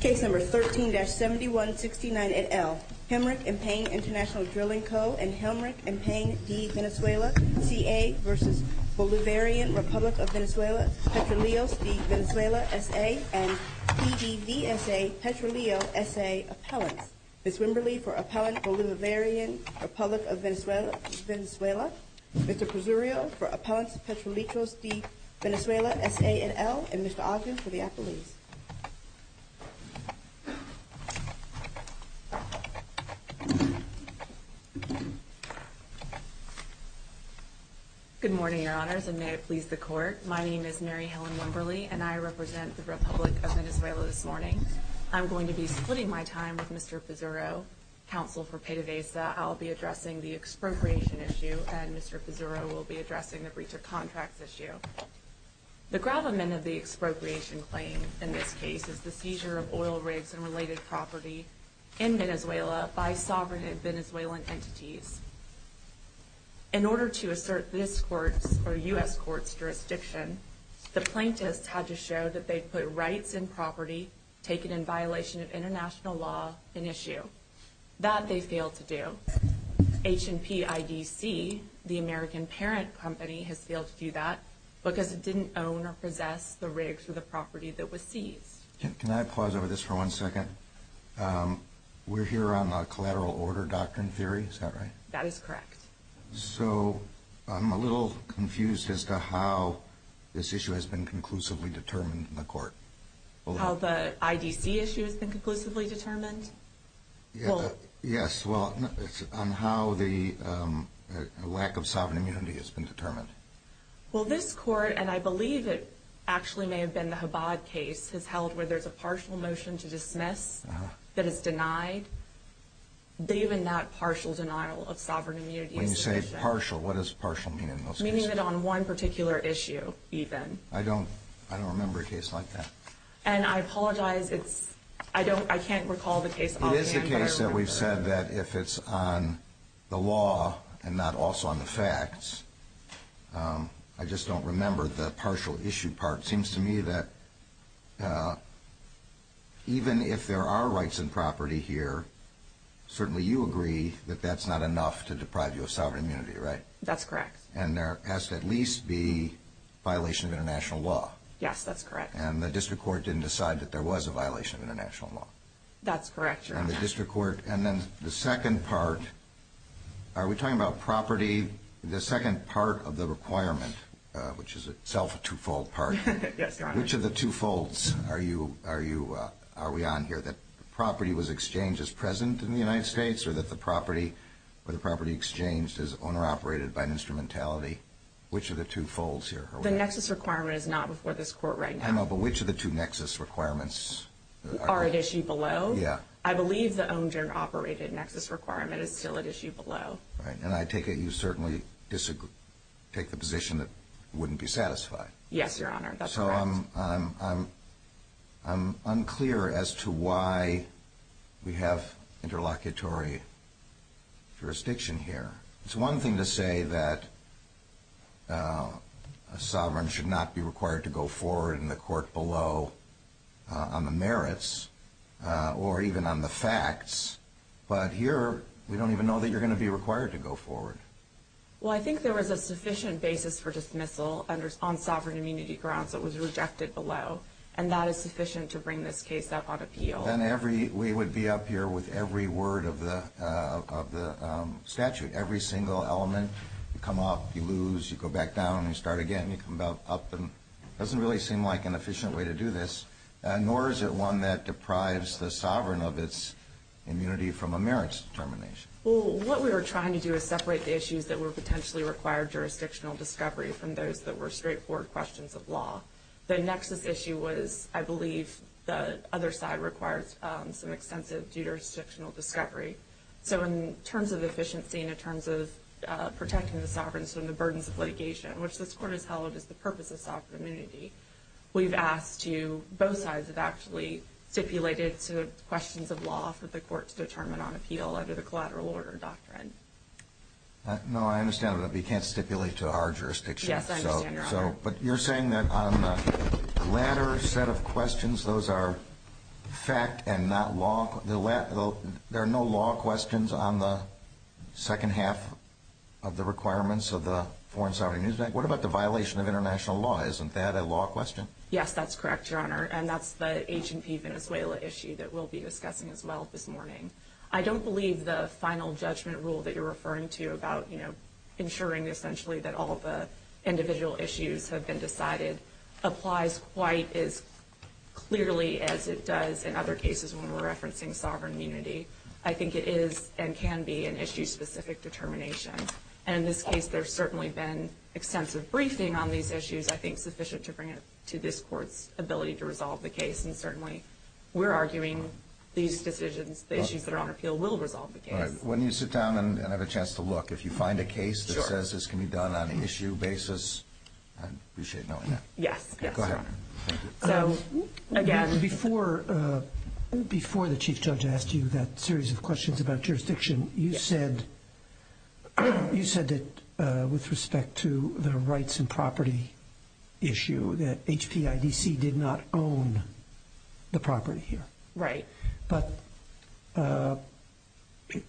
C. Venezuela S.A. and C.D.D.S.A. Petroleo S.A. Appellant. Ms. Wimberly for Appellant Bolivarian Rep. of Venezuela. Mr. Pezzurio for Appellant Petroleco C. Venezuela S.A. et al. Ms. Ogden for Appellant Petroleco C. Venezuela S.A. et al. Good morning, Your Honors, and may it please the Court. My name is Mary Helen Wimberly, and I represent the Republic of Venezuela this morning. I'm going to be splitting my time with Mr. Pezzurio, Counsel for Pay-to-Visa. I'll be addressing the expropriation issue, and Mr. Pezzurio will be addressing the breach of contract issue. The gravamen of the expropriation claims in this case is the seizure of oil rigs and related property in Venezuela by sovereign Venezuelan entities. In order to assert this Court or U.S. Court's jurisdiction, the plaintiffs had to show that they put rights and property taken in violation of international law in issue. That they failed to do. H&P IDC, the American parent company, has failed to do that because it didn't own or possess the rigs or the property that was seized. Can I pause over this for one second? We're here on the collateral order doctrine theory, is that right? That is correct. So I'm a little confused as to how this issue has been conclusively determined in the Court. How the IDC issue has been conclusively determined? Yes, well, on how the lack of sovereign immunity has been determined. Well, this Court, and I believe it actually may have been the Chabad case, has held where there's a partial motion to dismiss that it's denied. But even that partial denial of sovereign immunity... When you say partial, what does partial mean in those cases? Meaning that on one particular issue, even. I don't remember a case like that. And I apologize, I can't recall the case. It is the case that we've said that if it's on the law and not also on the facts, I just don't remember the partial issue part. It seems to me that even if there are rights and property here, certainly you agree that that's not enough to deprive you of sovereign immunity, right? That's correct. And there has to at least be violation of international law. Yes, that's correct. And the district court didn't decide that there was a violation of international law. That's correct, Your Honor. And the district court... And then the second part, are we talking about property? The second part of the requirement, which is itself a two-fold part. Yes, Your Honor. Which of the two folds are we on here? That property was exchanged as present in the United States or that the property exchanged as owner-operated by instrumentality? Which of the two folds here? The nexus requirement is not before this Court right now. I don't know, but which of the two nexus requirements? Are at issue below? Yeah. I believe the owner-operated nexus requirement is still at issue below. Right. And I take it you certainly take the position that it wouldn't be satisfied. Yes, Your Honor. That's correct. So I'm unclear as to why we have interlocutory jurisdiction here. It's one thing to say that a sovereign should not be required to go forward in the court below on the merits or even on the facts, but here we don't even know that you're going to be required to go forward. Well, I think there was a sufficient basis for dismissal on sovereign immunity grounds that was rejected below, and that is sufficient to bring this case up on appeal. Well, then we would be up here with every word of the statute, every single element. You come up, you lose, you go back down, and you start again. You come back up, and it doesn't really seem like an efficient way to do this, nor is it one that deprives the sovereign of its immunity from a merits determination. Well, what we were trying to do is separate the issues that were potentially required jurisdictional discovery from those that were straightforward questions of law. The nexus issue was, I believe, the other side requires some extensive jurisdictional discovery. So in terms of efficiency and in terms of protecting the sovereigns from the burdens of litigation, which the court has held is the purpose of sovereign immunity, we've asked to both sides have actually stipulated to questions of law for the court to determine on appeal under the collateral order doctrine. No, I understand that, but you can't stipulate to our jurisdiction. Yes, I understand your question. But you're saying that on the latter set of questions, those are fact and not law. There are no law questions on the second half of the requirements of the foreign sovereign. What about the violation of international law? Isn't that a law question? Yes, that's correct, Your Honor, and that's the H&P Venezuela issue that we'll be discussing as well this morning. I don't believe the final judgment rule that you're referring to about, you know, that all the individual issues have been decided applies quite as clearly as it does in other cases when we're referencing sovereign immunity. I think it is and can be an issue-specific determination. And in this case, there's certainly been extensive briefing on these issues, I think, sufficient to bring it to this Court's ability to resolve the case, and certainly we're arguing these decisions, the issues that are on appeal, will resolve the case. All right. Why don't you sit down and have a chance to look. If you find a case that says this can be done on an issue basis, I'd appreciate it. Yeah. Go ahead. Again, before the Chief Judge asked you that series of questions about jurisdiction, you said that with respect to the rights and property issue, that HTIDC did not own the property here. Right. But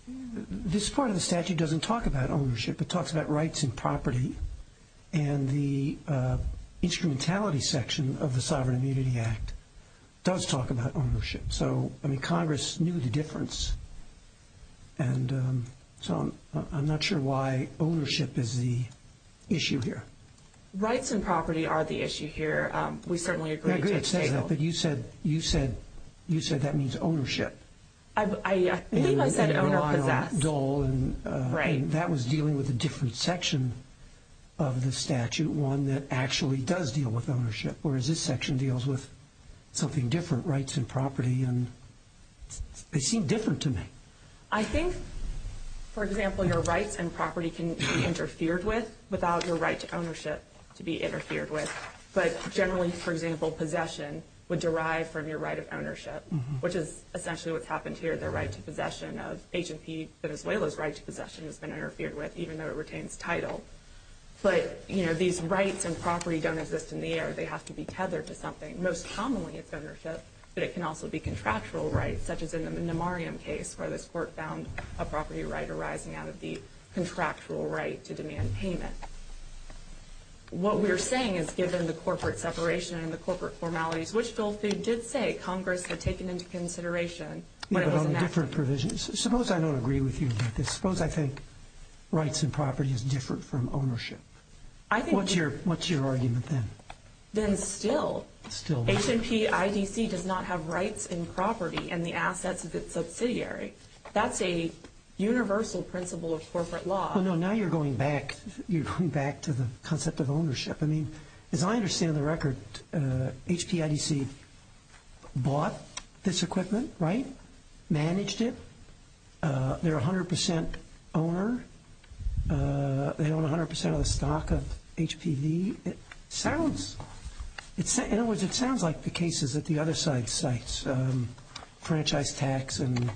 this part of the statute doesn't talk about ownership. It talks about rights and property, and the instrumentality section of the Sovereign Immunity Act does talk about ownership. So, I mean, Congress knew the difference, and so I'm not sure why ownership is the issue here. Rights and property are the issue here. We certainly agree. I was going to say that, but you said that means ownership. I think I said ownership of that. Right. That was dealing with a different section of the statute, one that actually does deal with ownership, whereas this section deals with something different, rights and property, and they seem different to me. I think, for example, your rights and property can be interfered with without your right to ownership to be interfered with. But generally, for example, possession would derive from your right of ownership, which is essentially what's happened here. The rights of possession of H&P Venezuela's rights of possession has been interfered with, even though it retains the title. But, you know, these rights and property don't exist in the air. They have to be tethered to something, most commonly of ownership, but it can also be contractual rights, such as in the Memoriam case where this court found a property right arising out of the contractual right to demand payment. What we're saying is, given the corporate separation and the corporate formalities, which goals did state Congress had taken into consideration? Well, there are different provisions. Suppose I don't agree with you about this. Suppose I think rights and property is different from ownership. What's your argument then? Then still, H&P IDC does not have rights in property and the assets of its subsidiary. That's a universal principle of corporate law. Well, no, now you're going back to the concept of ownership. I mean, as I understand the record, H&P IDC bought this equipment, right, managed it. They're a 100% owner. They own 100% of the stock of HTV. In other words, it sounds like the cases at the other sites, franchise tax and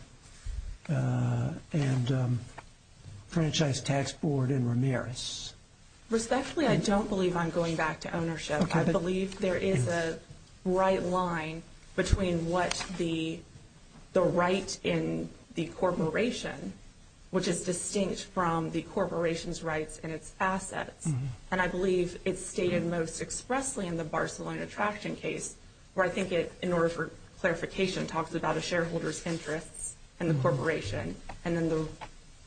franchise tax board in Ramirez. Respectfully, I don't believe I'm going back to ownership. I believe there is a right line between what the rights in the corporation, which is distinct from the corporation's rights and its assets. And I believe it's stated most expressly in the Barcelona Traction case, where I think it, in order for clarification, talks about a shareholder's interest in the corporation and in the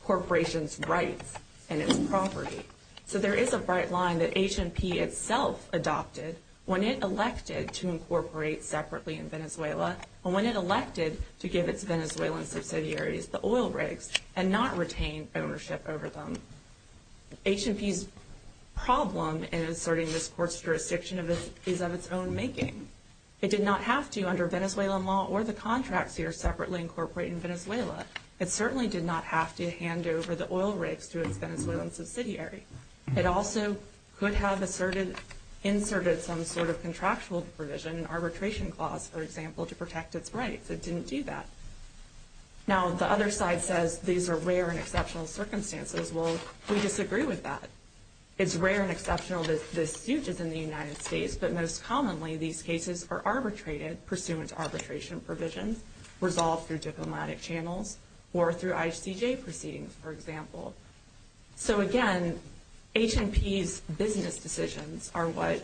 corporation's rights and its property. So there is a bright line that H&P itself adopted when it elected to incorporate separately in Venezuela and when it elected to give its Venezuelan subsidiaries the oil rigs and not retain ownership over them. H&P's problem in inserting this court's jurisdiction is in its own making. It did not have to under Venezuelan law or the contracts here separately incorporate in Venezuela. It certainly did not have to hand over the oil rigs to its Venezuelan subsidiary. It also could have inserted some sort of contractual provision, an arbitration clause, for example, to protect its rights. It didn't do that. Now, the other side says these are rare and exceptional circumstances. Well, we disagree with that. It's rare and exceptional that this uses in the United States, but most commonly these cases are arbitrated, pursuant to arbitration provisions, resolved through diplomatic channels or through ICJ proceedings, for example. So, again, H&P's business decisions are what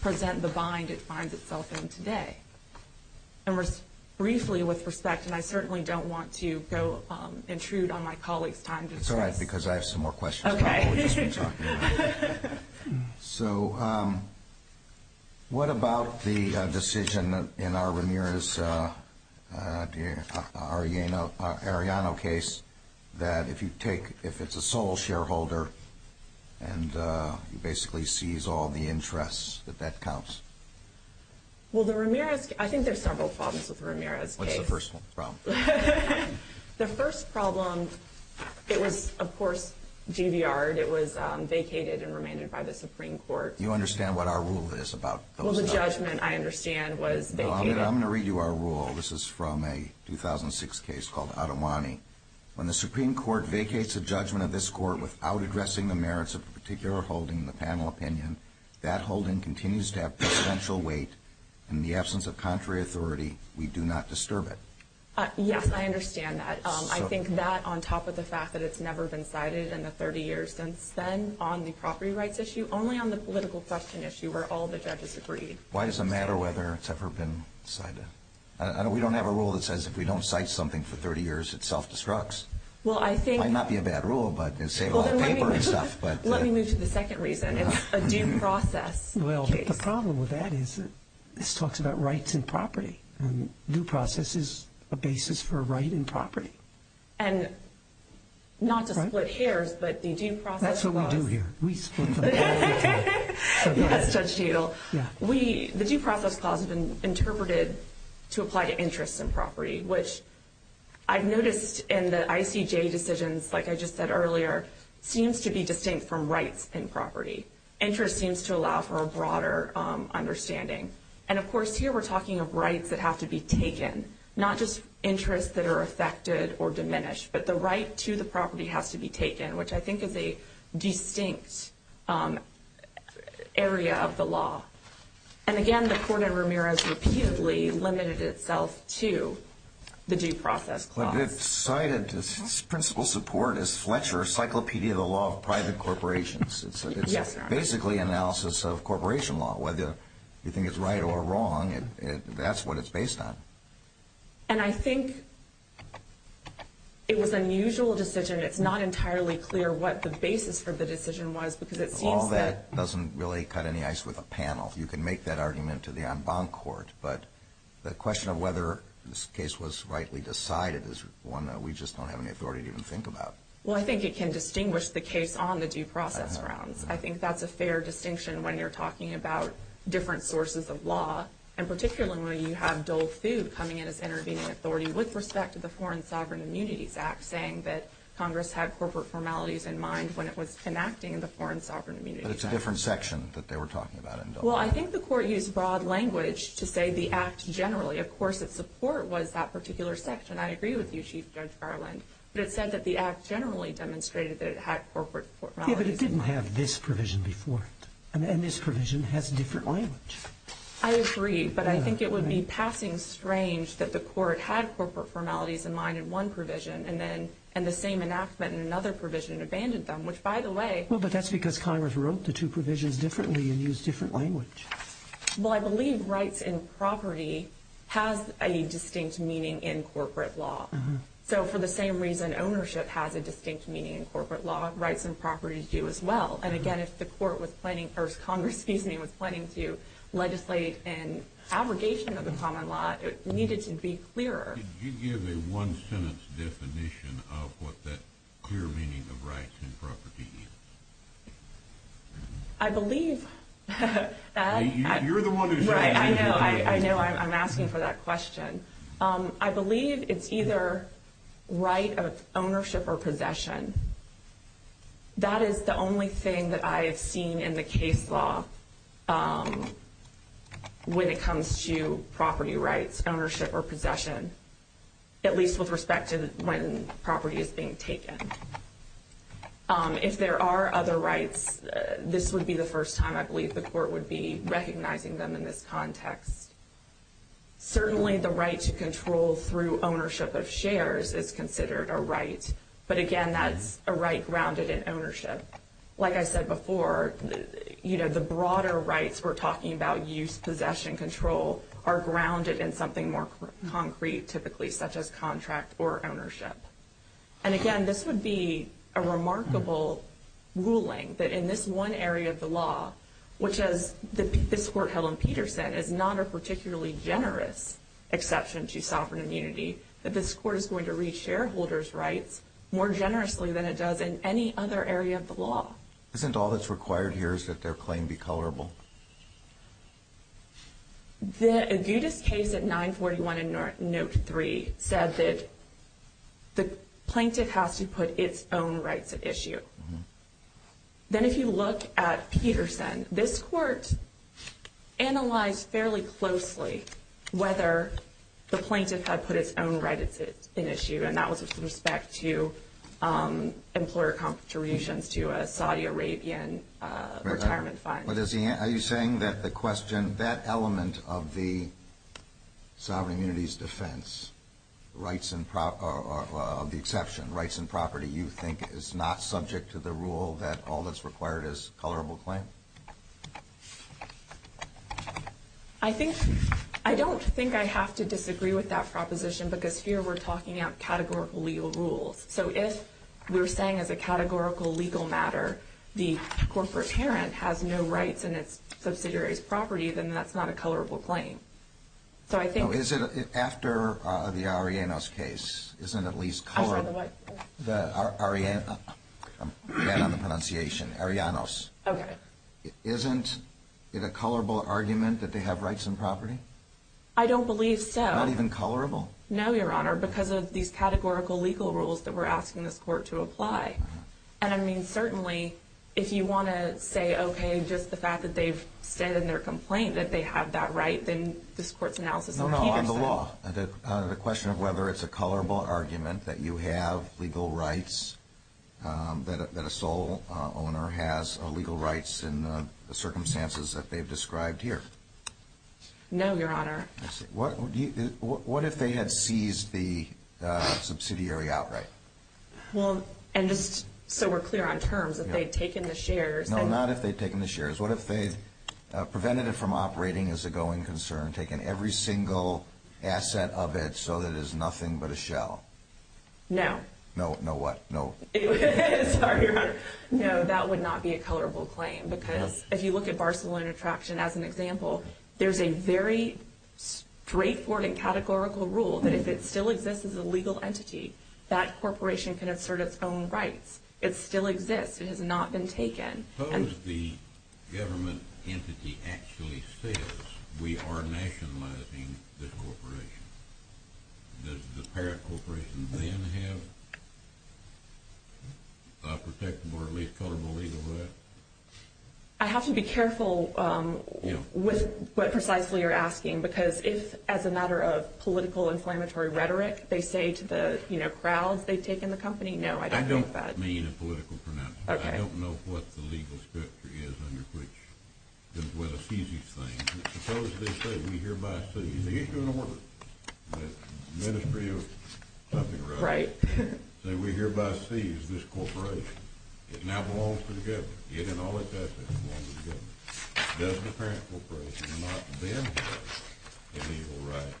present the bind it finds itself in today. And briefly, with respect, and I certainly don't want to go intrude on my colleague's time. It's all right, because I have some more questions. Okay. So, what about the decision in our Ramirez-Arellano case that if you take, if it's a sole shareholder, and you basically seize all the interests, that that counts? Well, the Ramirez, I think there's several problems with the Ramirez case. What's the first problem? The first problem, it was, of course, Juviard. It was vacated and remained by the Supreme Court. You understand what our rule is about those? Well, the judgment, I understand, was vacated. I'm going to read you our rule. This is from a 2006 case called Adamani. When the Supreme Court vacates a judgment of this court without addressing the merits of a particular holding, the panel opinion, that holding continues to have potential weight. In the absence of contrary authority, we do not disturb it. Yes, I understand that. I think that, on top of the fact that it's never been cited in the 30 years since then on the property rights issue, only on the political question issue where all the judges agree. Why does it matter whether it's ever been cited? We don't have a rule that says if we don't cite something for 30 years, it self-destructs. Well, I think – It might not be a bad rule, but it saved a lot of paper and stuff. Let me move to the second reason. It's a due process case. Well, the problem with that is this talks about rights and property. A due process is a basis for a right and property. And not to split hairs, but the due process – That's what we do here. We stand for the right and property. That's a deal. The due process clause is interpreted to apply to interests and property, which I've noticed in the ICJ decisions, like I just said earlier, seems to be distinct from rights and property. Interest seems to allow for a broader understanding. And, of course, here we're talking of rights that have to be taken, not just interests that are affected or diminished, but the right to the property has to be taken, which I think is a distinct area of the law. And, again, the court in Ramirez repeatedly limited itself to the due process clause. Well, it's cited – the principal support is Fletcher's Cyclopedia of the Law of Private Corporations. It's basically analysis of corporation law. Whether you think it's right or wrong, that's what it's based on. And I think it was an unusual decision. It's not entirely clear what the basis for the decision was because it seems that – well, you can make that argument to the en banc court, but the question of whether this case was rightly decided is one that we just don't have any authority to even think about. Well, I think it can distinguish the case on the due process grounds. I think that's a fair distinction when you're talking about different sources of law, and particularly when you have Dole Food coming in as intervening authority with respect to the Foreign Sovereign Immunity Act, saying that Congress had corporate formalities in mind when it was enacting the Foreign Sovereign Immunity Act. But it's a different section that they were talking about. Well, I think the court used broad language to say the act generally. Of course, the support was that particular section. I agree with you, Chief Judge Garland. But it said that the act generally demonstrated that it had corporate formalities in mind. Yeah, but it didn't have this provision before. And this provision has different language. I agree, but I think it would be passing strange that the court had corporate formalities in mind in one provision and the same enactment in another provision abandoned them, which, by the way – Well, but that's because Congress wrote the two provisions differently and used different language. Well, I believe rights and property have a distinct meaning in corporate law. So for the same reason ownership has a distinct meaning in corporate law, rights and property do as well. And, again, if the court was planning – or Congress, excuse me – was planning to legislate an abrogation of the common law, it needed to be clearer. Could you give a one-sentence definition of what that clear meaning of rights and property is? I believe that – You're the one who's asking. I know. I'm asking for that question. I believe it's either right of ownership or possession. That is the only thing that I have seen in the case law when it comes to property rights, ownership or possession, at least with respect to when property is being taken. If there are other rights, this would be the first time I believe the court would be recognizing them in this context. Certainly the right to control through ownership of shares is considered a right. But, again, that's a right grounded in ownership. Like I said before, you know, the broader rights – we're talking about use, possession, control – are grounded in something more concrete, typically, such as contract or ownership. And, again, this would be a remarkable ruling that in this one area of the law, which is that this court, Helen Peterson, is not a particularly generous exception to sovereign immunity, that this court is going to read shareholders' rights more generously than it does in any other area of the law. Isn't all that's required here is that their claim be colorable? Judith's case at 941 and Nook 3 says that the plaintiff has to put its own rights at issue. Then if you look at Peterson, this court analyzed fairly closely whether the plaintiff had put its own rights at issue, and that was with respect to employer contributions to a Saudi Arabian retirement fund. Are you saying that the question – that element of the sovereign immunity's defense, of the exception, rights and property, you think is not subject to the rule that all that's required is a colorable claim? I don't think I have to disagree with that proposition, because here we're talking about categorical legal rules. So if we're saying as a categorical legal matter the corporate parent has no rights in its subsidiary's property, then that's not a colorable claim. After the Ariannos case, isn't it at least colorable? I'm sorry, what? The Ariannos. I'm bad on the pronunciation. Ariannos. Okay. Isn't it a colorable argument that they have rights and property? I don't believe so. Not even colorable? No, Your Honor, because of these categorical legal rules that we're asking the court to apply. And I mean, certainly, if you want to say, okay, just the fact that they've said in their complaint that they have that right, then this court denounces them. No, no, on the law. The question of whether it's a colorable argument that you have legal rights, that a sole owner has legal rights in the circumstances that they've described here. No, Your Honor. What if they had seized the subsidiary outright? Well, and just so we're clear on terms, if they've taken the shares. No, not if they've taken the shares. What if they've prevented it from operating as a going concern, taken every single asset of it so that it's nothing but a shell? No. No, no what? No. Sorry, Your Honor. No, that would not be a colorable claim. Because if you look at Barcelona Attraction as an example, there's a very straightforward and categorical rule that if it still exists as a legal entity, that corporation can assert its own rights. It still exists. It has not been taken. Suppose the government entity actually says we are nationalizing this corporation. Does the parent corporation then have a protectable or at least colorable legal right? I have to be careful with what precisely you're asking, because if as a matter of political and inflammatory rhetoric they say to the, you know, crowd they've taken the company, no, I don't think that. I don't mean a political pronouncement. Okay. I don't know what the legal structure is under which it was seized. Suppose they say we hereby seize this corporation. It now belongs to the government. It and all its assets belong to the government. Does the parent corporation not then have a legal right?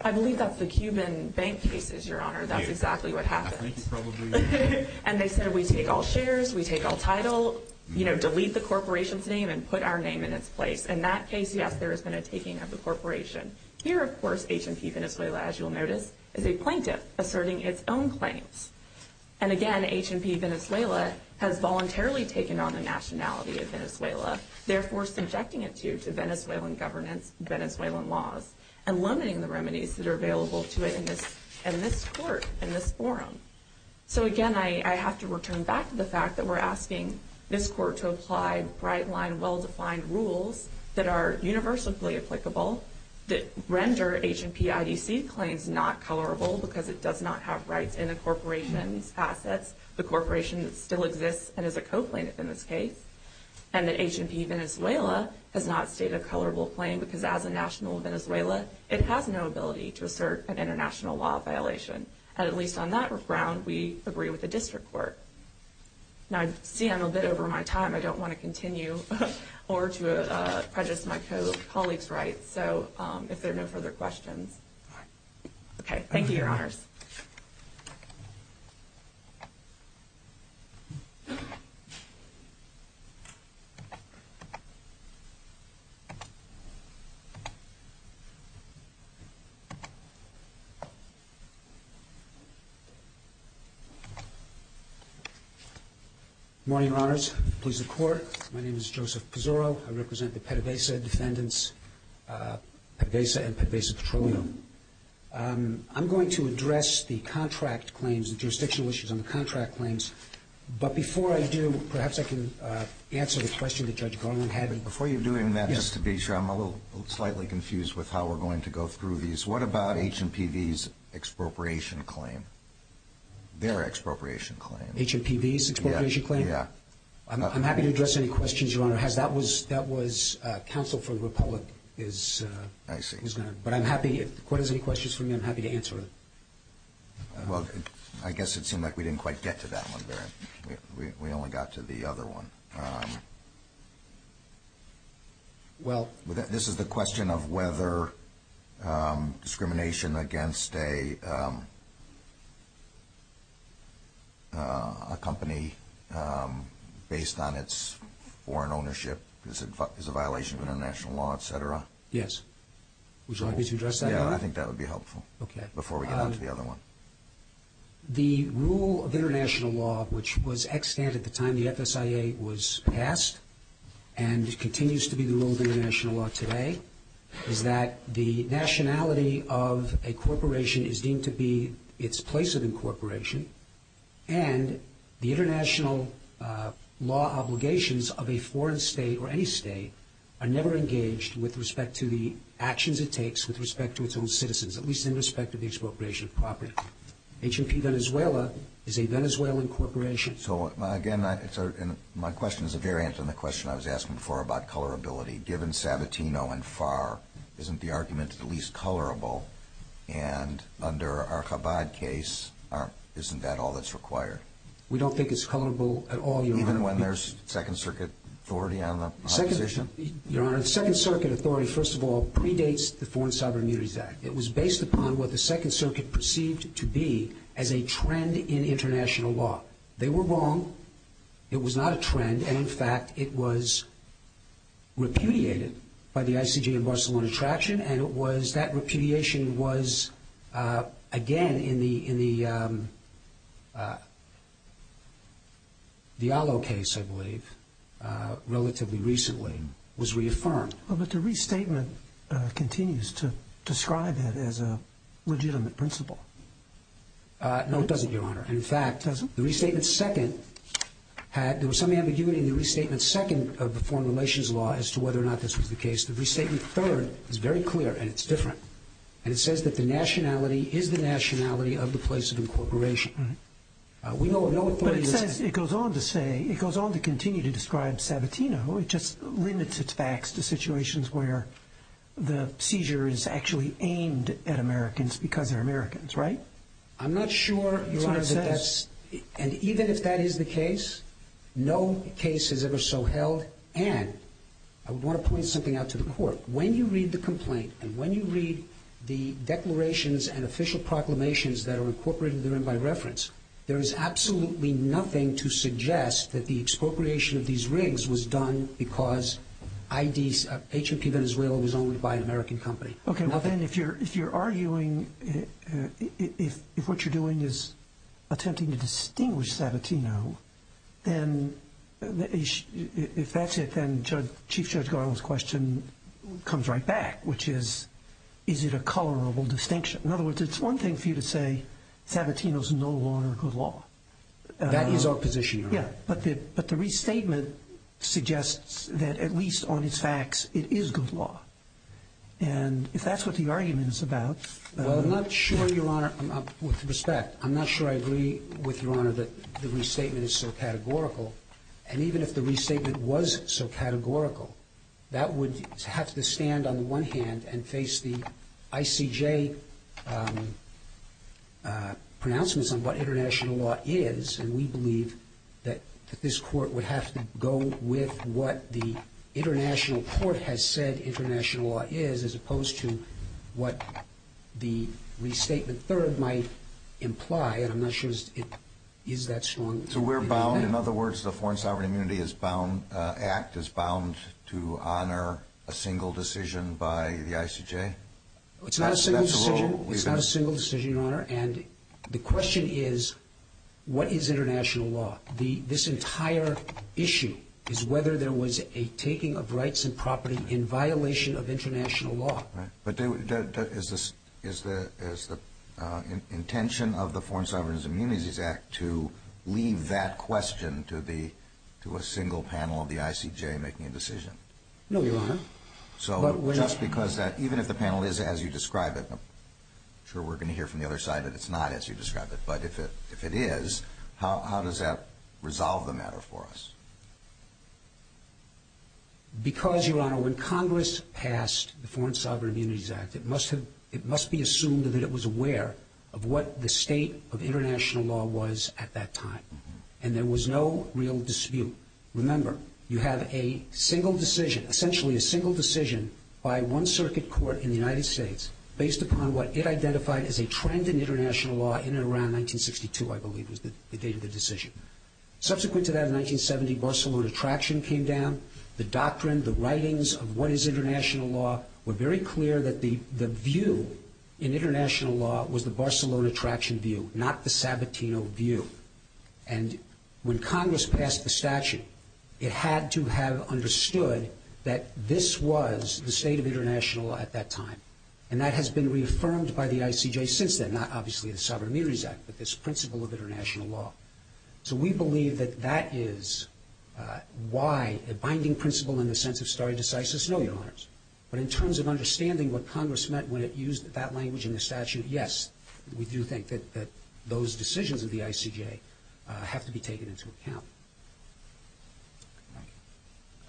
I believe that's the Cuban bank cases, Your Honor. That's exactly what happened. I think it probably is. And they said we take all shares, we take all title, you know, delete the corporation's name and put our name in its place. And that's basically how there has been a taking of the corporation. Here, of course, H&P Venezuela, as you'll notice, is a plaintiff asserting its own claims. And, again, H&P Venezuela has voluntarily taken on the nationality of Venezuela, therefore subjecting it to Venezuelan government, Venezuelan laws, and loaning the remedies that are available to it in this court, in this forum. So, again, I have to return back to the fact that we're asking this court to apply bright line, well-defined rules that are universally applicable that render H&P IDC claims not colorable because it does not have rights in a corporation's assets. The corporation still exists and is a co-plaintiff in this case. And that H&P Venezuela has not stayed a colorable claim because as a national Venezuela, it has no ability to assert an international law violation. At least on that ground, we agree with the district court. Now, I'm a bit over my time. I don't want to continue or to prejudice my co-colleagues' rights. So, if there are no further questions. Okay. Thank you, Your Honors. Good morning, Your Honors. Please support. My name is Joseph Pizzurro. I represent the PDVSA defendants, PDVSA and PDVSA Petroleum. I'm going to address the contract claims, the jurisdictional issues on the contract claims. But before I do, perhaps I can answer the question that Judge Garland had. Before you do that, Mr. Beecher, I'm a little slightly confused with how we're going to go through these. What about H&PV's expropriation claim? Their expropriation claim? H&PV's expropriation claim? Yeah. I'm happy to address any questions Your Honor. That was counsel for the public. I see. But I'm happy. If the court has any questions for me, I'm happy to answer them. Well, I guess it seemed like we didn't quite get to that one there. We only got to the other one. Well... This is the question of whether discrimination against a company based on its foreign ownership is a violation of international law, etc. Yes. Would you like me to address that one? Yeah, I think that would be helpful. Okay. Before we come to the other one. The rule of international law, which was extant at the time the FSIA was passed, and continues to be the rule of international law today, is that the nationality of a corporation is deemed to be its place of incorporation, and the international law obligations of a foreign state or any state are never engaged with respect to the actions it takes with respect to its own citizens, at least in respect to the incorporation of property. HRP Venezuela is a Venezuelan corporation. So, again, my question is a variant from the question I was asking before about colorability. Given Sabatino and Farr, isn't the argument at least colorable? And under our Chabad case, isn't that all that's required? We don't think it's colorable at all. Even when there's Second Circuit authority on the position? Your Second Circuit authority, first of all, predates the Foreign Cyber Mutuities Act. It was based upon what the Second Circuit perceived to be as a trend in international law. They were wrong. It was not a trend, and, in fact, it was repudiated by the ICJ in Barcelona traction, and that repudiation was, again, in the Diallo case, I believe, relatively recently, was reaffirmed. Well, but the restatement continues to describe it as a legitimate principle. No, it doesn't, Your Honor. In fact, the restatement second, there was some ambiguity in the restatement second of the foreign relations law as to whether or not this was the case. The restatement third is very clear, and it's different, and it says that the nationality is the nationality of the place of incorporation. But it says, it goes on to say, it goes on to continue to describe Sabatino. It just limits its facts to situations where the seizure is actually aimed at Americans because they're Americans, right? I'm not sure, Your Honor, that that's, and even if that is the case, no case is ever so held, and I want to point something out to the Court. When you read the complaint, and when you read the declarations and official proclamations that are incorporated therein by reference, there is absolutely nothing to suggest that the expropriation of these rigs was done because H&P Venezuela was owned by an American company. Okay. Now, then, if you're arguing, if what you're doing is attempting to distinguish Sabatino, then if that's it, then Chief Judge Garland's question comes right back, which is, is it a colorable distinction? In other words, it's one thing for you to say Sabatino's no longer good law. That is opposition, Your Honor. Yeah, but the restatement suggests that, at least on its facts, it is good law. And if that's what the argument is about... Well, I'm not sure, Your Honor, with respect, I'm not sure I agree with Your Honor that the restatement is so categorical, and even if the restatement was so categorical, that would have to stand on the one hand and face the ICJ pronouncements on what international law is, and we believe that this court would have to go with what the international court has said international law is, as opposed to what the restatement third might imply, and I'm not sure it is that strong. So we're bound, in other words, the Foreign Sovereign Immunity Act is bound to honor a single decision by the ICJ? It's not a single decision, Your Honor, and the question is, what is international law? This entire issue is whether there was a taking of rights and property in violation of international law. But is the intention of the Foreign Sovereign Immunity Act to leave that question to a single panel of the ICJ making a decision? No, Your Honor. So just because that, even if the panel is as you describe it, I'm sure we're going to hear from the other side that it's not as you describe it, but if it is, how does that resolve the matter for us? Because, Your Honor, when Congress passed the Foreign Sovereign Immunity Act, it must be assumed that it was aware of what the state of international law was at that time, and there was no real dispute. Remember, you have a single decision, essentially a single decision by one circuit court in the United States, based upon what it identified as a trend in international law in and around 1962, I believe was the date of the decision. Subsequent to that, in 1970, Barcelona Traction came down. The doctrine, the writings of what is international law were very clear that the view in international law was the Barcelona Traction view, not the Sabatino view. And when Congress passed the statute, it had to have understood that this was the state of international law at that time, and that has been reaffirmed by the ICJ since then, not obviously the Sovereign Immunities Act, but this principle of international law. So we believe that that is why the binding principle in the sense of stare decisis, no, Your Honors. But in terms of understanding what Congress meant when it used that language in the statute, yes, we do think that those decisions of the ICJ have to be taken into account.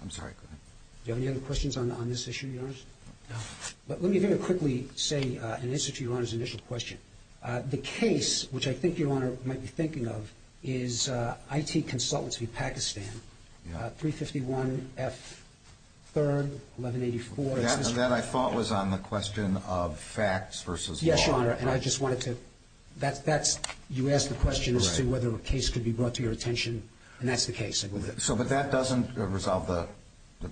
I'm sorry. Do you have any other questions on this issue, Your Honors? No. But let me very quickly say, in answer to Your Honor's initial question, the case, which I think Your Honor might be thinking of, is IT Consultancy of Pakistan, 351 F. 3rd, 1184. That, I thought, was on the question of facts versus law. Yes, Your Honor, and I just wanted to – you asked the question as to whether a case could be brought to your attention, and that's the case. So, but that doesn't resolve the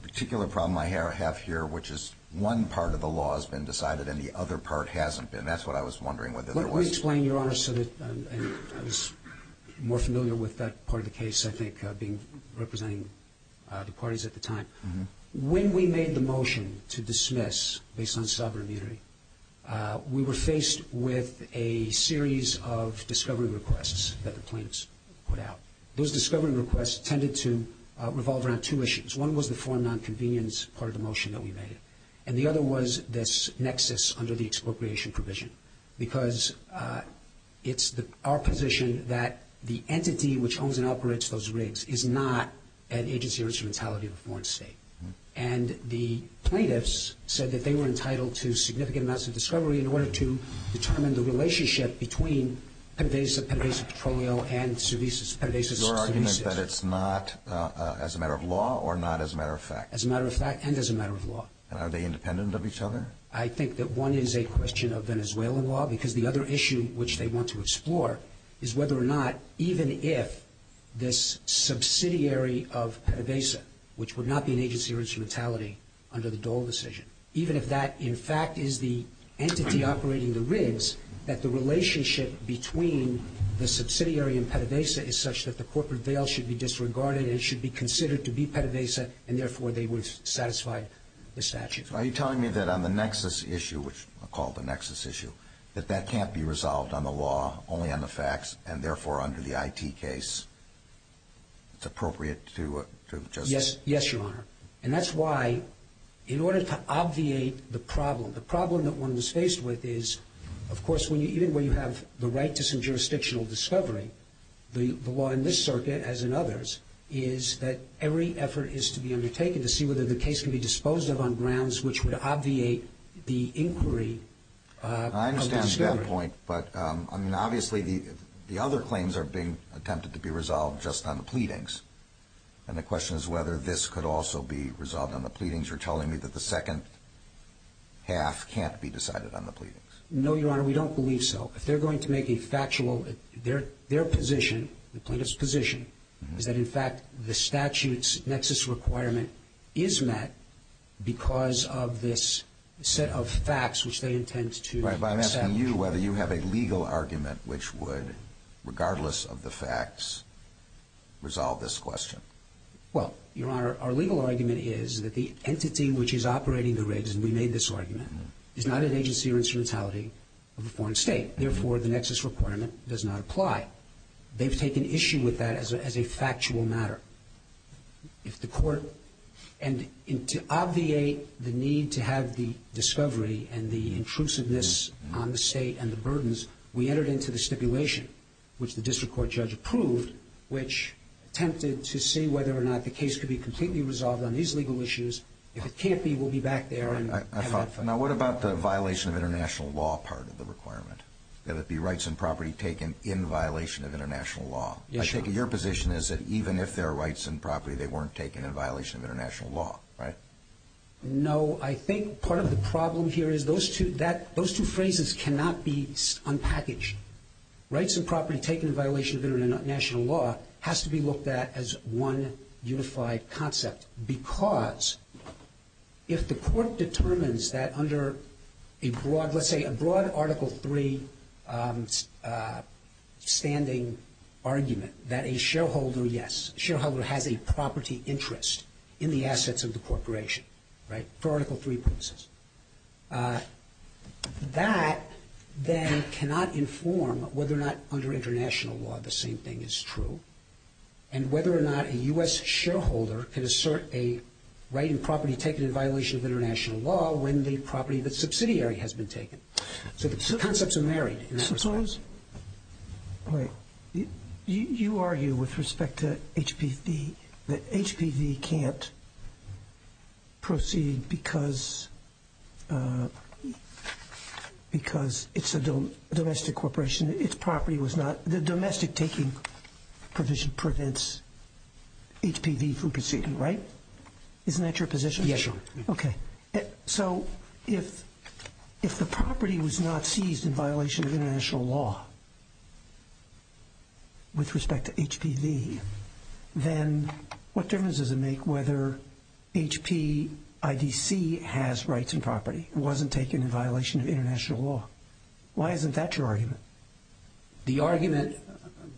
particular problem I have here, which is one part of the law has been decided and the other part hasn't been. And that's what I was wondering. Let me explain, Your Honor, so that I'm more familiar with that part of the case, I think, representing the parties at the time. When we made the motion to dismiss based on sovereign immunity, we were faced with a series of discovery requests that the plaintiffs put out. Those discovery requests tended to revolve around two issues. One was the foreign nonconvenience part of the motion that we made, and the other was this nexus under the expropriation provision, because it's our position that the entity which owns and operates those rigs is not an agency or a totality of a foreign state. And the plaintiffs said that they were entitled to significant amounts of discovery in order to determine the relationship between Your argument is that it's not as a matter of law or not as a matter of fact? As a matter of fact and as a matter of law. Are they independent of each other? I think that one is a question of Venezuelan law, because the other issue which they want to explore is whether or not, even if this subsidiary of PDVSA, which would not be an agency or a totality under the Dole decision, even if that, in fact, is the entity operating the rigs, that the relationship between the subsidiary and PDVSA is such that the corporate veil should be disregarded and should be considered to be PDVSA, and therefore they would satisfy the statute. Are you telling me that on the nexus issue, which we'll call the nexus issue, that that can't be resolved on the law, only on the facts, and therefore under the IT case, it's appropriate to... Yes, Your Honor. And that's why, in order to obviate the problem, the problem that one is faced with is, of course, even when you have the right to some jurisdictional discovery, the law in this circuit, as in others, is that every effort is to be undertaken to see whether the case can be disposed of on grounds which would obviate the inquiry. I understand that point, but, I mean, obviously the other claims are being attempted to be resolved just on the pleadings, and the question is whether this could also be resolved on the pleadings. You're telling me that the second half can't be decided on the pleadings. No, Your Honor, we don't believe so. They're going to make a factual, their position, the plaintiff's position, is that, in fact, the statute's nexus requirement is met because of this set of facts which they intend to... Your Honor, I'm asking you whether you have a legal argument which would, regardless of the facts, resolve this question. Well, Your Honor, our legal argument is that the entity which is operating the raids, and we made this argument, is not an agency or insurantality of a foreign state. Therefore, the nexus requirement does not apply. They've taken issue with that as a factual matter. If the court, and to obviate the need to have the discovery and the intrusiveness on the state and the burdens, we entered into the stipulation, which the district court judge approved, which attempted to see whether or not the case could be completely resolved on these legal issues. If it can't be, we'll be back there. Now, what about the violation of international law part of the requirement, that it be rights and property taken in violation of international law? I think your position is that even if there are rights and property, they weren't taken in violation of international law, right? No, I think part of the problem here is those two phrases cannot be unpackaged. Rights and property taken in violation of international law has to be looked at as one unified concept because if the court determines that under a broad, let's say a broad Article III standing argument, that a shareholder, yes, a shareholder has a property interest in the assets of the corporation, right? For Article III purposes. That then cannot inform whether or not under international law the same thing is true and whether or not a U.S. shareholder can assert a right and property taken in violation of international law when the property of the subsidiary has been taken. So the two concepts are married. Mr. Sorensen? Right. You argue with respect to HPV that HPV can't proceed because it's a domestic corporation. The domestic taking provision prevents HPV from proceeding, right? Isn't that your position? Yeah, sure. Okay. So if the property was not seized in violation of international law with respect to HPV, then what difference does it make whether HPIDC has rights and property? It wasn't taken in violation of international law. Why isn't that your argument? The argument,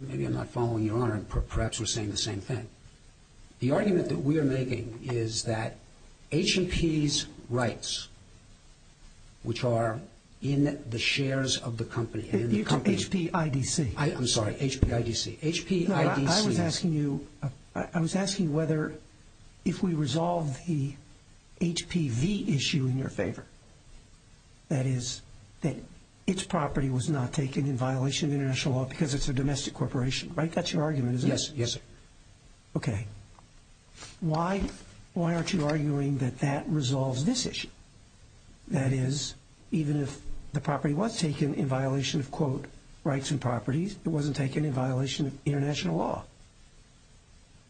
maybe I'm not following you on it. Perhaps we're saying the same thing. The argument that we are making is that HP's rights, which are in the shares of the company. It's HPIDC. I'm sorry, HPIDC. I was asking whether if we resolved the HPV issue in your favor, that is, that its property was not taken in violation of international law because it's a domestic corporation, right? That's your argument, isn't it? Yes, yes. Okay. Why aren't you arguing that that resolves this issue? That is, even if the property was taken in violation of, quote, rights and properties, it wasn't taken in violation of international law.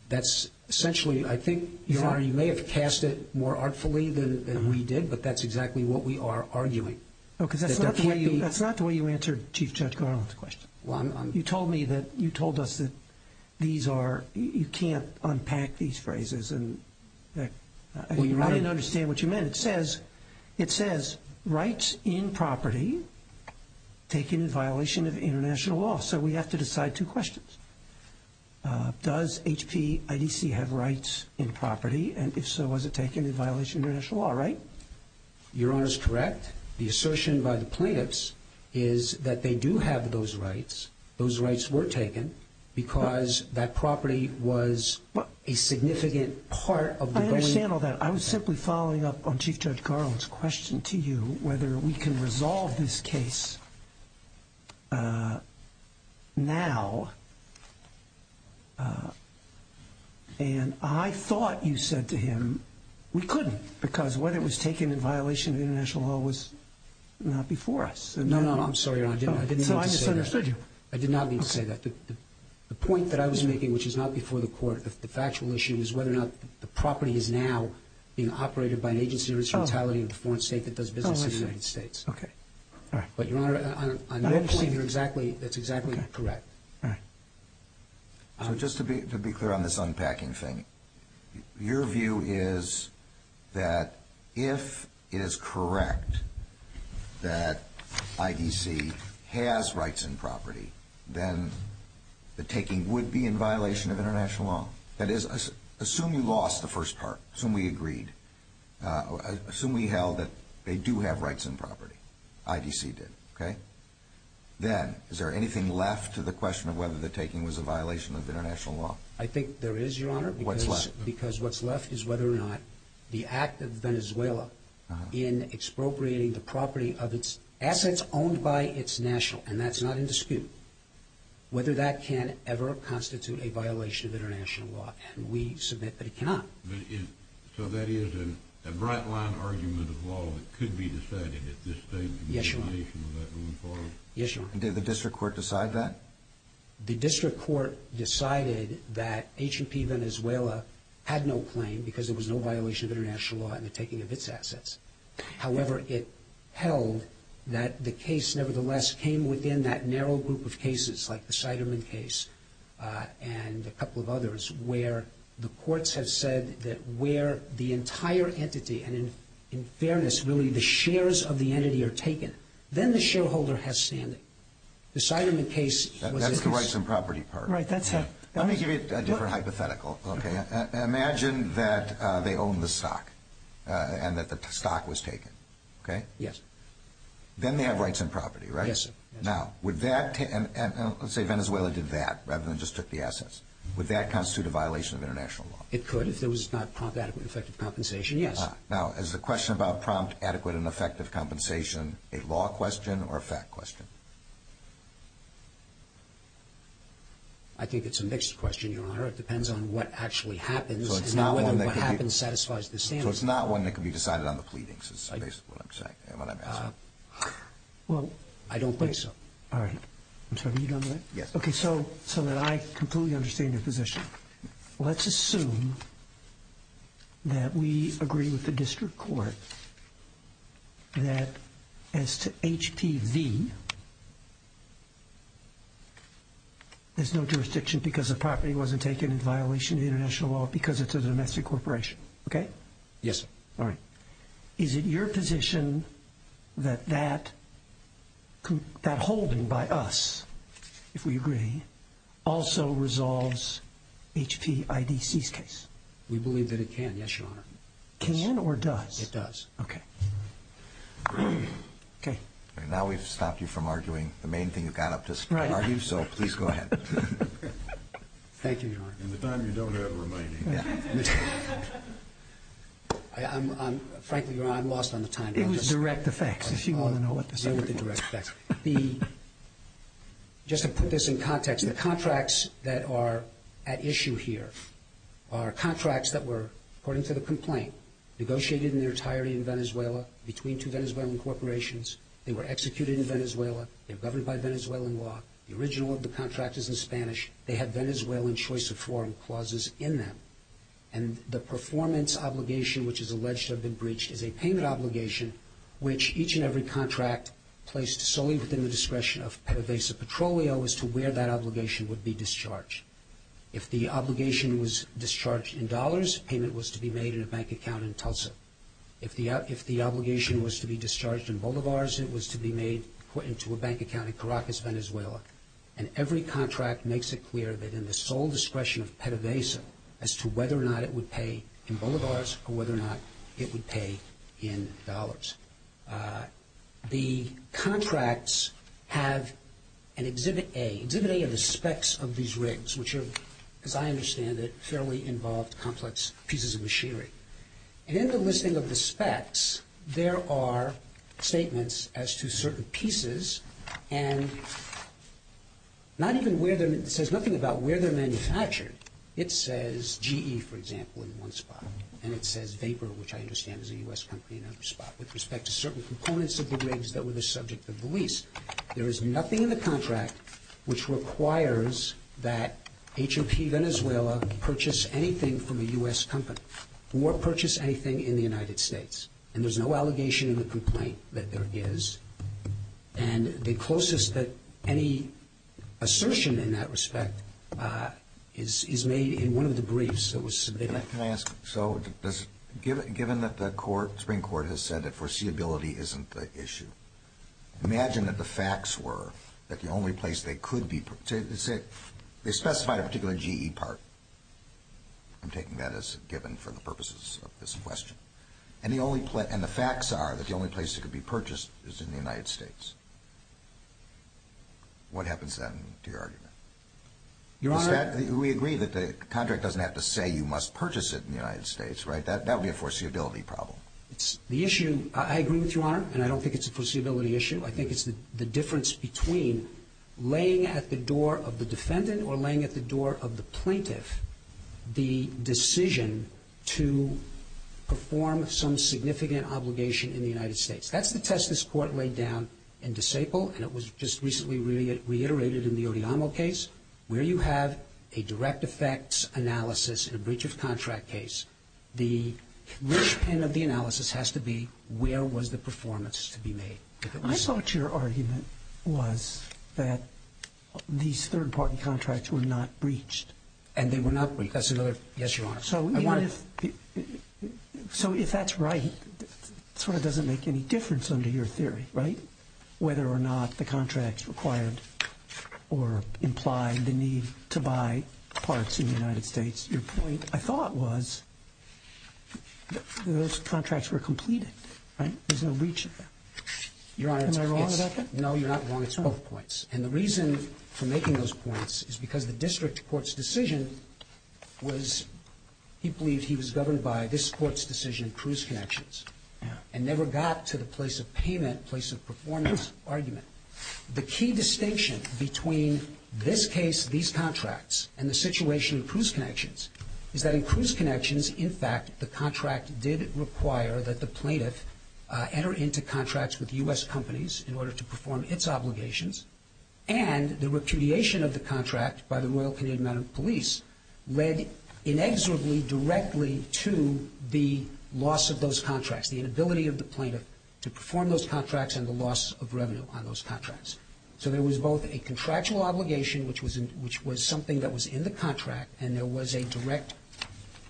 That's essentially, I think you may have cast it more artfully than we did, but that's exactly what we are arguing. That's not the way you answered Chief Judge Garland's question. You told me that, you told us that these are, you can't unpack these phrases. I didn't understand what you meant. It says, it says rights in property taken in violation of international law. So we have to decide two questions. Does HPIDC have rights in property? And if so, was it taken in violation of international law, right? Your Honor is correct. The assertion by the plaintiffs is that they do have those rights. Those rights were taken because that property was a significant part of the- I don't understand all that. I was simply following up on Chief Judge Garland's question to you, whether we can resolve this case now. And I thought you said to him, we couldn't, because what it was taken in violation of international law was not before us. No, no, I'm sorry, Your Honor. I didn't mean to say that. So I misunderstood you. I did not mean to say that. The point that I was making, which is not before the court, but the factual issue is whether or not the property is now being operated by an agency or it's held in a foreign state that does business in the United States. Okay, all right. But, Your Honor, I understand you're exactly, that's exactly correct. All right. So just to be clear on this unpacking thing, your view is that if it is correct that IBC has rights in property, then the taking would be in violation of international law. That is, assume we lost the first part, assume we agreed, assume we held that they do have rights in property, IBC did, okay? Then, is there anything left to the question of whether the taking was in violation of international law? I think there is, Your Honor. What's left? Because what's left is whether or not the act of Venezuela in expropriating the property of its assets is owned by its national, and that's not in dispute, whether that can ever constitute a violation of international law. And we submit that it cannot. So that is a bright-line argument of law that could be decided at this stage? Yes, Your Honor. Yes, Your Honor. Did the district court decide that? The district court decided that H&P Venezuela had no claim because there was no violation of international law in the taking of its assets. However, it held that the case, nevertheless, came within that narrow group of cases, like the Siderman case and a couple of others, where the courts have said that where the entire entity, and in fairness, really the shares of the entity are taken, then the shareholder has standing. The Siderman case was different. That's the rights in property part. Right, that's a different hypothetical. Imagine that they own the stock and that the stock was taken. Okay? Yes. Then they have rights in property, right? Yes, sir. Now, let's say Venezuela did that rather than just took the assets. Would that constitute a violation of international law? It could if there was not prompt, adequate, and effective compensation, yes. Now, is the question about prompt, adequate, and effective compensation a law question or a fact question? I think it's a mixed question, Your Honor. It depends on what actually happens. So it's not one that could be decided on the pleadings. Well, I don't think so. All right. I'm sorry, you don't know? Yes. Okay, so now I completely understand your position. Let's assume that we agree with the district court that as to HPV, there's no jurisdiction because the property wasn't taken in violation of international law because it's a domestic corporation. Okay? Yes. All right. Is it your position that that holding by us, if we agree, also resolves HP IDC's case? We believe that it can, yes, Your Honor. Can or does? It does. Okay. Okay. Now we've stopped you from arguing the main thing you've got up to, so please go ahead. Thank you, Your Honor. In the time you don't have remaining. Frankly, Your Honor, I'm lost on the time. It was direct effects, if you want to know what to say. It was a direct effect. Just to put this in context, the contracts that are at issue here are contracts that were, according to the complaint, negotiated in their entirety in Venezuela between two Venezuelan corporations. They were executed in Venezuela. They're governed by Venezuelan law. The original of the contract is in Spanish. They had Venezuelan choice of foreign clauses in them. And the performance obligation, which is alleged to have been breached, is a payment obligation, which each and every contract placed solely within the discretion of Pervasive Petroleum as to where that obligation would be discharged. If the obligation was discharged in dollars, payment was to be made in a bank account in Tulsa. If the obligation was to be discharged in bolivars, it was to be made, put into a bank account in Caracas, Venezuela. And every contract makes it clear that in the sole discretion of Pervasive as to whether or not it would pay in bolivars or whether or not it would pay in dollars. The contracts have an Exhibit A. Exhibit A are the specs of these rigs, which are, as I understand it, fairly involved complex pieces of machinery. And in the listing of the specs, there are statements as to certain pieces and not even where they're – it says nothing about where they're manufactured. It says GE, for example, in one spot. And it says Vapor, which I understand is a U.S. company in another spot, with respect to certain components of the rigs that were the subject of the lease. There is nothing in the contract which requires that HOP Venezuela purchase anything from a U.S. company or purchase anything in the United States. And there's no allegation in the complaint that there is. And the closest that any assertion in that respect is made in one of the briefs that was submitted. Can I ask – so given that the Supreme Court has said that foreseeability isn't the issue, imagine that the facts were that the only place they could be – they specify a particular GE part. I'm taking that as given for the purposes of this question. And the facts are that the only place it could be purchased is in the United States. What happens then to your argument? Your Honor – We agree that the contract doesn't have to say you must purchase it in the United States, right? That would be a foreseeability problem. The issue – I agree with you, Your Honor, and I don't think it's a foreseeability issue. I think it's the difference between laying at the door of the defendant or laying at the door of the plaintiff the decision to perform some significant obligation in the United States. That's the test this Court laid down in DeSable, and it was just recently reiterated in the O'Donnell case. Where you have a direct effects analysis in a breach of contract case, the real aim of the analysis has to be where was the performance to be made. I thought your argument was that these third-party contracts were not breached. And they were not breached. That's another – yes, Your Honor. So if that's right, it sort of doesn't make any difference under your theory, right, whether or not the contract required or implied the need to buy parts in the United States. Your point, I thought, was that those contracts were completed, right? It was a breach of them. Your Honor – Am I wrong about that? No, you're not wrong. It's both points. And the reason for making those points is because the district court's decision was – he believes he was governed by this court's decision, Cruz Connections, and never got to the place of payment, place of performance argument. The key distinction between this case, these contracts, and the situation in Cruz Connections is that in Cruz Connections, in fact, the contract did require that the plaintiff enter into contracts with U.S. companies in order to perform its obligations. And the repudiation of the contract by the Royal Canadian Mounted Police led inexorably directly to the loss of those contracts, the inability of the plaintiff to perform those contracts and the loss of revenue on those contracts. So there was both a contractual obligation, which was something that was in the contract, and there was a direct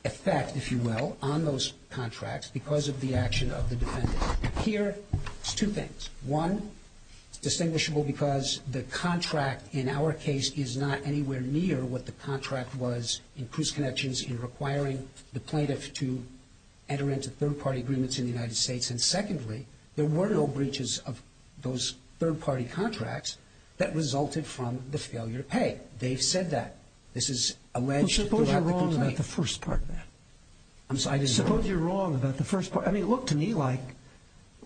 effect, if you will, on those contracts because of the action of the defendant. Here, two things. One, distinguishable because the contract in our case is not anywhere near what the contract was in Cruz Connections in terms of requiring the plaintiff to enter into third-party agreements in the United States. And secondly, there were no breaches of those third-party contracts that resulted from the failure to pay. They said that. This is – Suppose you're wrong about the first part, then. Suppose you're wrong about the first part. I mean, look to me like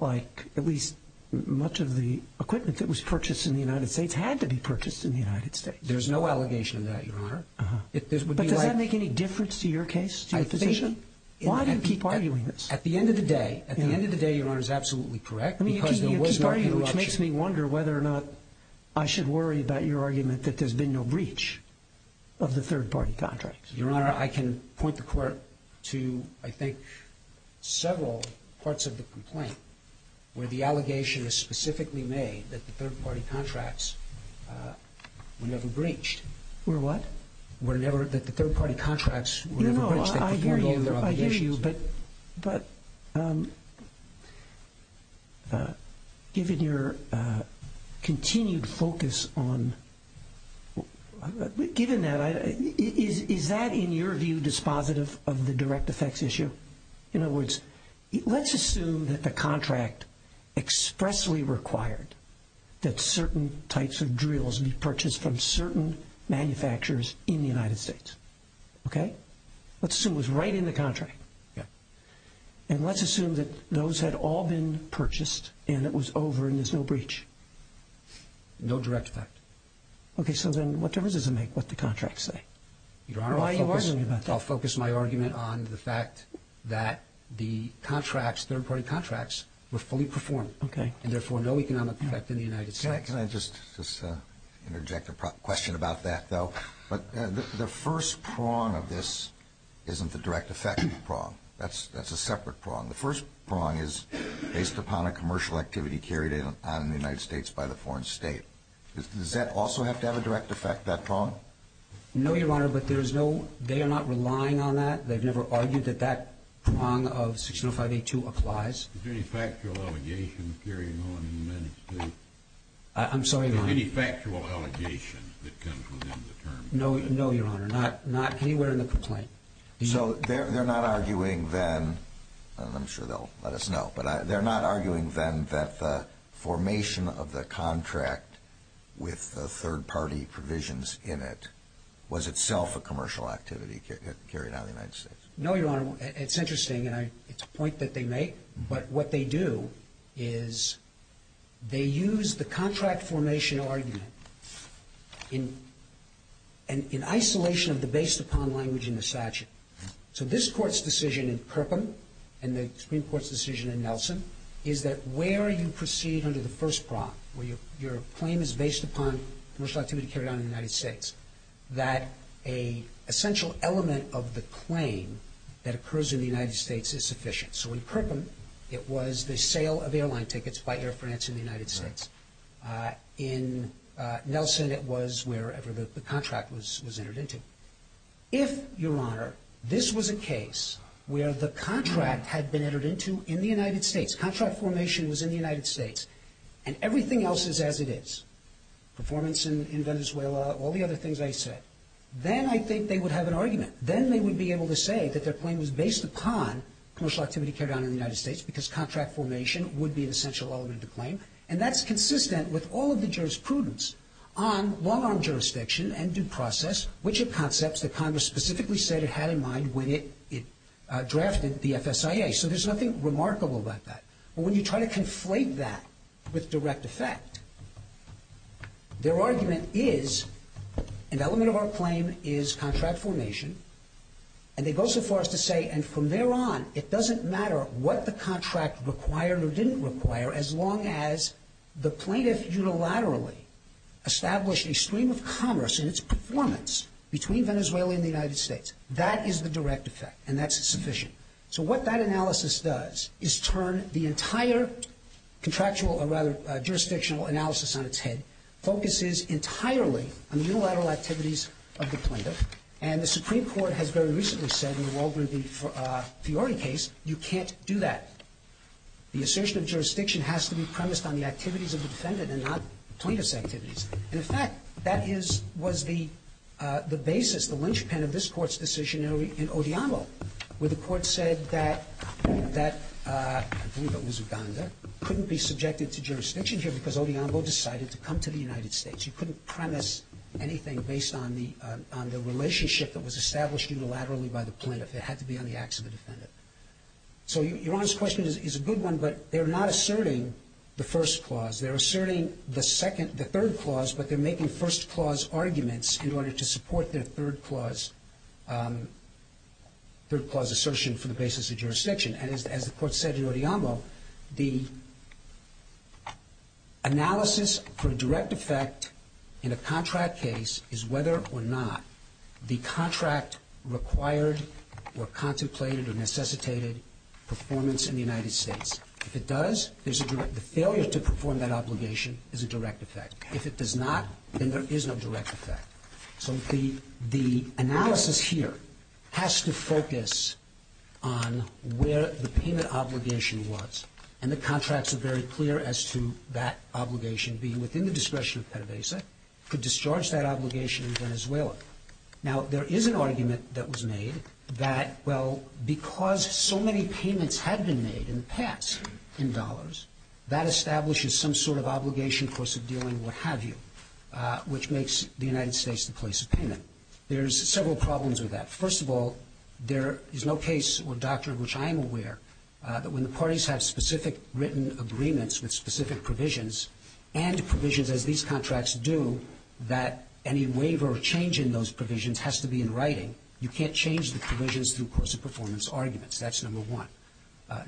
at least much of the equipment that was purchased in the United States had to be purchased in the United States. There's no allegation of that, Your Honor. But does that make any difference to your case? Why do you keep arguing this? At the end of the day, Your Honor is absolutely correct because there was no interruption. I mean, you keep arguing, which makes me wonder whether or not I should worry about your argument that there's been no breach of the third-party contracts. Your Honor, I can point the court to, I think, several parts of the complaint where the allegation is specifically made that the third-party contracts were never breached. Were what? Were never – that the third-party contracts were never breached. I hear you, but given your continued focus on – given that, is that in your view dispositive of the direct effects issue? In other words, let's assume that the contract expressly required that certain types of drills be purchased from certain manufacturers in the United States. Okay? Let's assume it was right in the contract. Yeah. And let's assume that those had all been purchased and it was over and there's no breach. No direct effect. Okay, so then what difference does it make what the contracts say? Your Honor, I'll focus my argument on the fact that the contracts, third-party contracts, were fully performed. Okay. And, therefore, no economic effect in the United States. Can I just interject a question about that, though? The first prong of this isn't the direct effect prong. That's a separate prong. The first prong is based upon a commercial activity carried out in the United States by the foreign state. Does that also have to have a direct effect, that prong? No, Your Honor, but there's no – they are not relying on that. They've never argued that that prong of 605A2 applies. Is there any factual allegations carrying on in the United States? I'm sorry, Your Honor. Any factual allegations that come from them? No, Your Honor. Not anywhere in the complaint. So they're not arguing, then – and I'm sure they'll let us know – but they're not arguing, then, that the formation of the contract with the third-party provisions in it was itself a commercial activity carried out in the United States? No, Your Honor. It's interesting, and it's a point that they make. But what they do is they use the contract formation argument in isolation of the based-upon language in the statute. So this Court's decision in Perkin and the Supreme Court's decision in Nelson is that where you proceed under the first prong, where your claim is based upon commercial activity carried out in the United States, that an essential element of the claim that occurs in the United States is sufficient. So in Perkin, it was the sale of airline tickets by Air France in the United States. In Nelson, it was wherever the contract was entered into. If, Your Honor, this was a case where the contract had been entered into in the United States, contract formation was in the United States, and everything else is as it is – performance in Venezuela, all the other things I said – then I think they would have an argument. Then they would be able to say that their claim was based upon commercial activity carried out in the United States because contract formation would be an essential element of the claim. And that's consistent with all of the jurisprudence on long-arm jurisdiction and due process, which are concepts that Congress specifically said it had in mind when it drafted the FSIA. So there's nothing remarkable about that. When you try to conflate that with direct effect, their argument is an element of our claim is contract formation. And they go so far as to say, and from there on, it doesn't matter what the contract required or didn't require as long as the plaintiff unilaterally established a stream of commerce in its performance between Venezuela and the United States. That is the direct effect, and that's sufficient. So what that analysis does is turn the entire contractual, or rather jurisdictional analysis on its head, focuses entirely on the unilateral activities of the plaintiff. And the Supreme Court has very recently said in the Walbury v. Fiori case, you can't do that. The assertion of jurisdiction has to be premised on the activities of the defendant and not plaintiff's activities. And, in fact, that was the basis, the linchpin of this court's decision in Ollambo, where the court said that, I believe it was Uganda, couldn't be subjected to jurisdiction here because Ollambo decided to come to the United States. You couldn't premise anything based on the relationship that was established unilaterally by the plaintiff. It had to be on the acts of the defendant. So your Honor's question is a good one, but they're not asserting the first clause. They're asserting the third clause, but they're making first clause arguments in order to support their third clause assertion from the basis of jurisdiction. And as the court said in Ollambo, the analysis for direct effect in a contract case is whether or not the contract required or contemplated or necessitated performance in the United States. If it does, the failure to perform that obligation is a direct effect. If it does not, then there is no direct effect. So the analysis here has to focus on where the payment obligation was. And the contracts are very clear as to that obligation being within the discretion of PETA-BASIC could discharge that obligation in Venezuela. Now, there is an argument that was made that, well, because so many payments had been made in the past in dollars, that establishes some sort of obligation, course of dealing, what have you, which makes the United States the place of payment. There's several problems with that. First of all, there is no case or doctrine, which I am aware, that when the parties have specific written agreements with specific provisions and provisions as these contracts do, that any waiver or change in those provisions has to be in writing. You can't change the provisions through course of performance arguments. That's number one.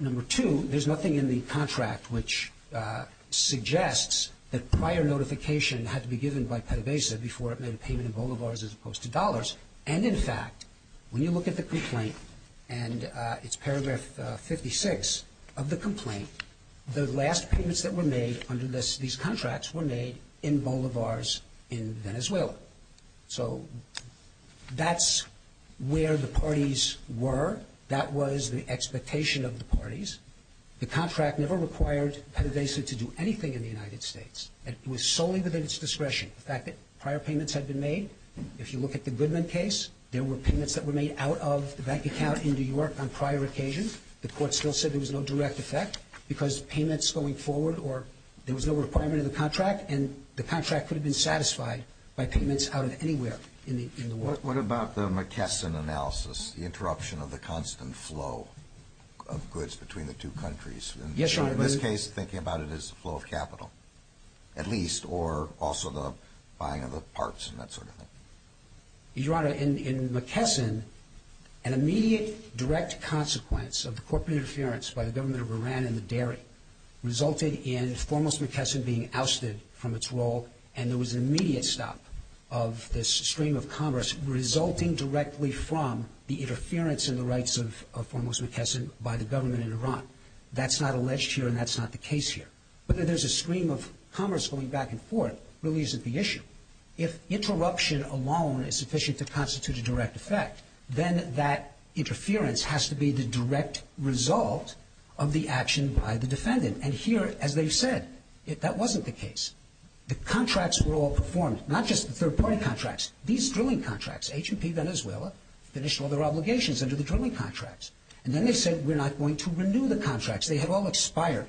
Number two, there's nothing in the contract which suggests that prior notification had to be given by PETA-BASIC before it made a payment in bolivars as opposed to dollars. And in fact, when you look at the complaint, and it's paragraph 56 of the complaint, the last payments that were made under these contracts were made in bolivars in Venezuela. So that's where the parties were. That was the expectation of the parties. The contract never required PETA-BASIC to do anything in the United States. It was solely the business discretion, the fact that prior payments had been made. If you look at the Goodman case, there were payments that were made out of the bank account in New York on prior occasions. The court still said there was no direct effect because payments going forward or there was no requirement in the contract, and the contract could have been satisfied by payments out of anywhere in the world. What about the McKesson analysis, the interruption of the constant flow of goods between the two countries? Yes, Your Honor. In this case, thinking about it as the flow of capital, at least, or also the buying of parts and that sort of thing. Your Honor, in McKesson, an immediate direct consequence of the corporate interference by the government of Iran in the dairy resulted in Formos McKesson being ousted from its role, and there was an immediate stop of this stream of commerce resulting directly from the interference in the rights of Formos McKesson by the government in Iran. That's not alleged here, and that's not the case here. Whether there's a stream of commerce going back and forth really isn't the issue. If interruption alone is sufficient to constitute a direct effect, then that interference has to be the direct result of the action by the defendant. And here, as they said, that wasn't the case. The contracts were all performed, not just the third-party contracts, these drilling contracts. H&P Venezuela finished all their obligations under the drilling contracts, and then they said we're not going to renew the contracts. They had all expired.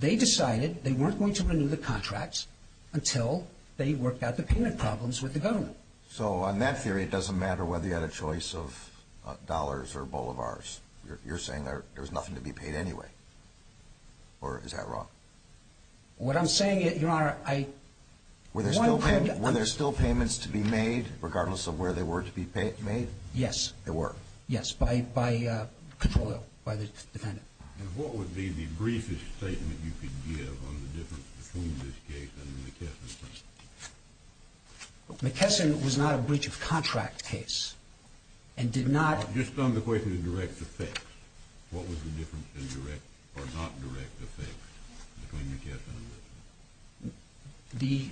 They decided they weren't going to renew the contracts until they worked out the payment problems with the government. So on that theory, it doesn't matter whether you had a choice of dollars or boulevards. You're saying there was nothing to be paid anyway, or is that wrong? What I'm saying is, Your Honor, I... Were there still payments to be made regardless of where they were to be made? Yes. There were. Yes, by control of the defendant. And what would be the briefest statement you could give on the difference between this case and the McKesson case? McKesson was not a breach of contract case and did not... Just on the question of direct effect, what was the difference in direct or not direct effect between McKesson and Venezuela? The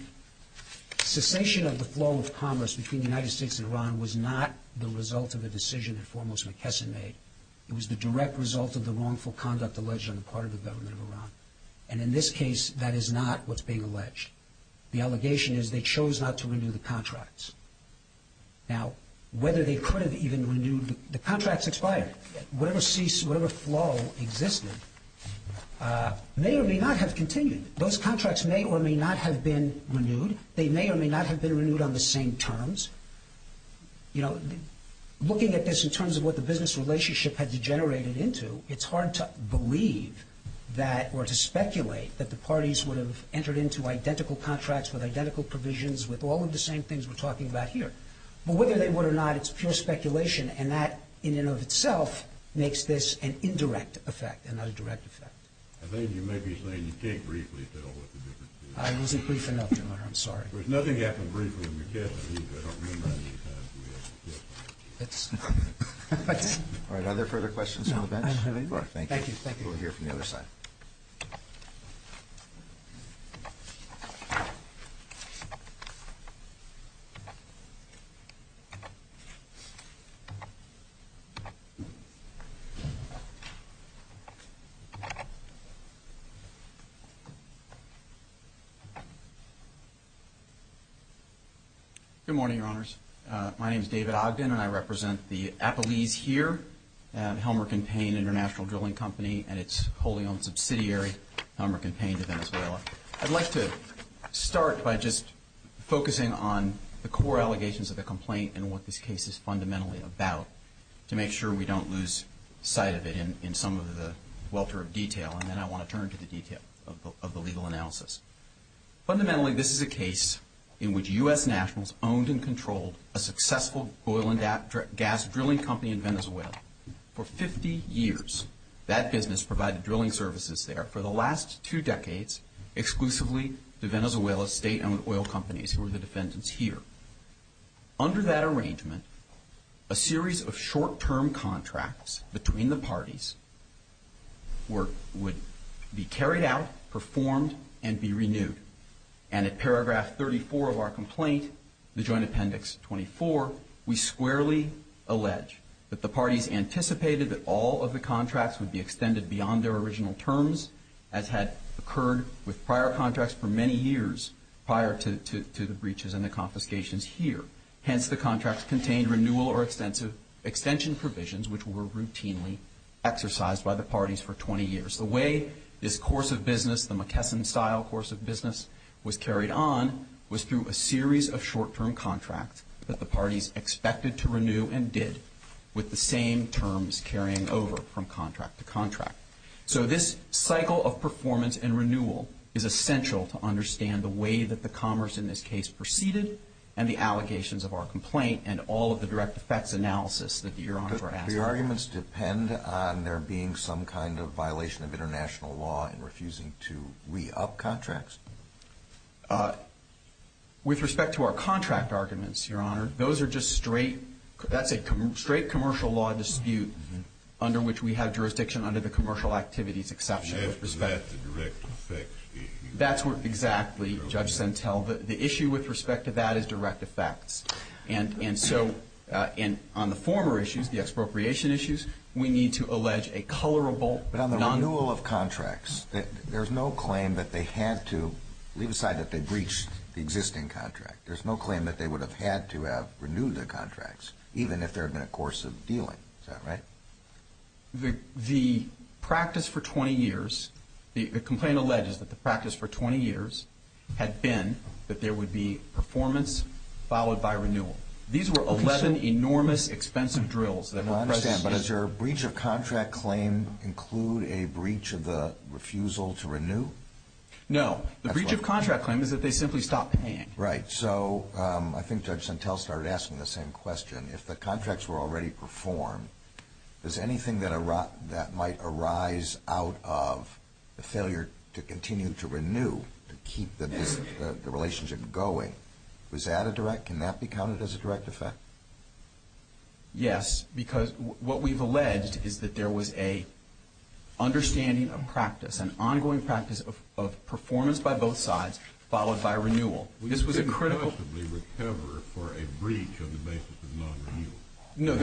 cessation of the flow of commerce between the United States and Iran was not the result of a decision that foremost McKesson made. It was the direct result of the wrongful conduct alleged on the part of the government of Iran. And in this case, that is not what's being alleged. The allegation is they chose not to renew the contracts. Now, whether they could have even renewed... The contracts expired. Whatever flow existed may or may not have continued. Those contracts may or may not have been renewed. They may or may not have been renewed on the same terms. You know, looking at this in terms of what the business relationship had degenerated into, it's hard to believe that or to speculate that the parties would have entered into identical contracts with identical provisions with all of the same things we're talking about here. But whether they would or not, it's pure speculation, and that in and of itself makes this an indirect effect and not a direct effect. I think you may be saying you can't briefly tell what the difference is. I wasn't brief enough, Your Honor. I'm sorry. There's nothing you have to briefly make clear. Are there further questions from the bench? I don't have any more. Thank you. We'll hear from the other side. Good morning, Your Honors. My name is David Ogden, and I represent the Apolyte here, Helmer & Payne International Drilling Company, and it's holding on subsidiary Helmer & Payne of Venezuela. I'd like to start by just focusing on the core allegations of the complaint and what this case is fundamentally about to make sure we don't lose sight of it in some of the welter of detail, and then I want to turn to the detail of the legal analysis. Fundamentally, this is a case in which U.S. nationals owned and controlled a successful oil and gas drilling company in Venezuela. For 50 years, that business provided drilling services there. For the last two decades, exclusively to Venezuela's state-owned oil companies who are the defendants here. Under that arrangement, a series of short-term contracts between the parties would be carried out, performed, and be renewed. And at paragraph 34 of our complaint, the Joint Appendix 24, we squarely allege that the parties anticipated that all of the contracts would be extended beyond their original terms, as had occurred with prior contracts for many years prior to the breaches and the confiscations here. Hence, the contracts contained renewal or extension provisions which were routinely exercised by the parties for 20 years. The way this course of business, the McKesson-style course of business, was carried on was through a series of short-term contracts that the parties expected to renew and did, with the same terms carrying over from contract to contract. So this cycle of performance and renewal is essential to understand the way that the commerce in this case proceeded and the allegations of our complaint and all of the direct effects analysis that Your Honor has. Do the arguments depend on there being some kind of violation of international law and refusing to re-up contracts? With respect to our contract arguments, Your Honor, those are just straight commercial law disputes under which we have jurisdiction under the commercial activities exception. And that's a direct effect dispute. That's what, exactly, Judge Sentelva. The issue with respect to that is direct effects. And so on the former issues, the expropriation issues, we need to allege a colorable non-renewal. But on the renewal of contracts, there's no claim that they had to leave aside that they breached the existing contract. There's no claim that they would have had to have renewed their contracts even if there had been a course of dealing. Is that right? The practice for 20 years, the complaint alleges that the practice for 20 years had been that there would be performance followed by renewal. These were 11 enormous expensive drills. I understand. But does your breach of contract claim include a breach of the refusal to renew? No. The breach of contract claim is that they simply stopped paying. Right. So I think Judge Sentelva started asking the same question. If the contracts were already performed, is anything that might arise out of the failure to continue to renew to keep the relationship going, was that a direct? Can that be counted as a direct effect? Yes, because what we've alleged is that there was an understanding of practice, an ongoing practice of performance by both sides followed by renewal. This was incredible. We could possibly recover for a breach on the basis of non-renewal. No.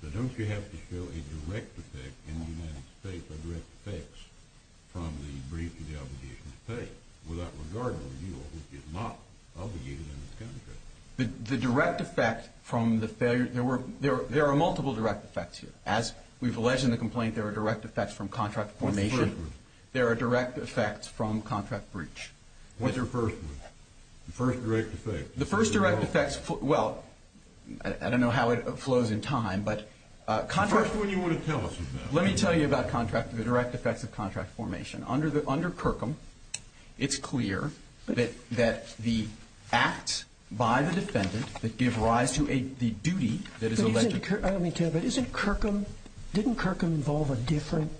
But don't you have to show a direct effect in the United States from the breach of the obligation to pay without regarding renewal, which is not obligated under the contract? The direct effect from the failure, there are multiple direct effects. As we've alleged in the complaint, there are direct effects from contract formation. What's the first one? There are direct effects from contract breach. What's your first one? The first direct effect. The first direct effect, well, I don't know how it flows in time. The first one you want to tell us about. Let me tell you about the direct effects of contract formation. Under Kirkham, it's clear that the act by the defendant that gives rise to the duty that is alleged. Let me tell you, but isn't Kirkham, didn't Kirkham involve a different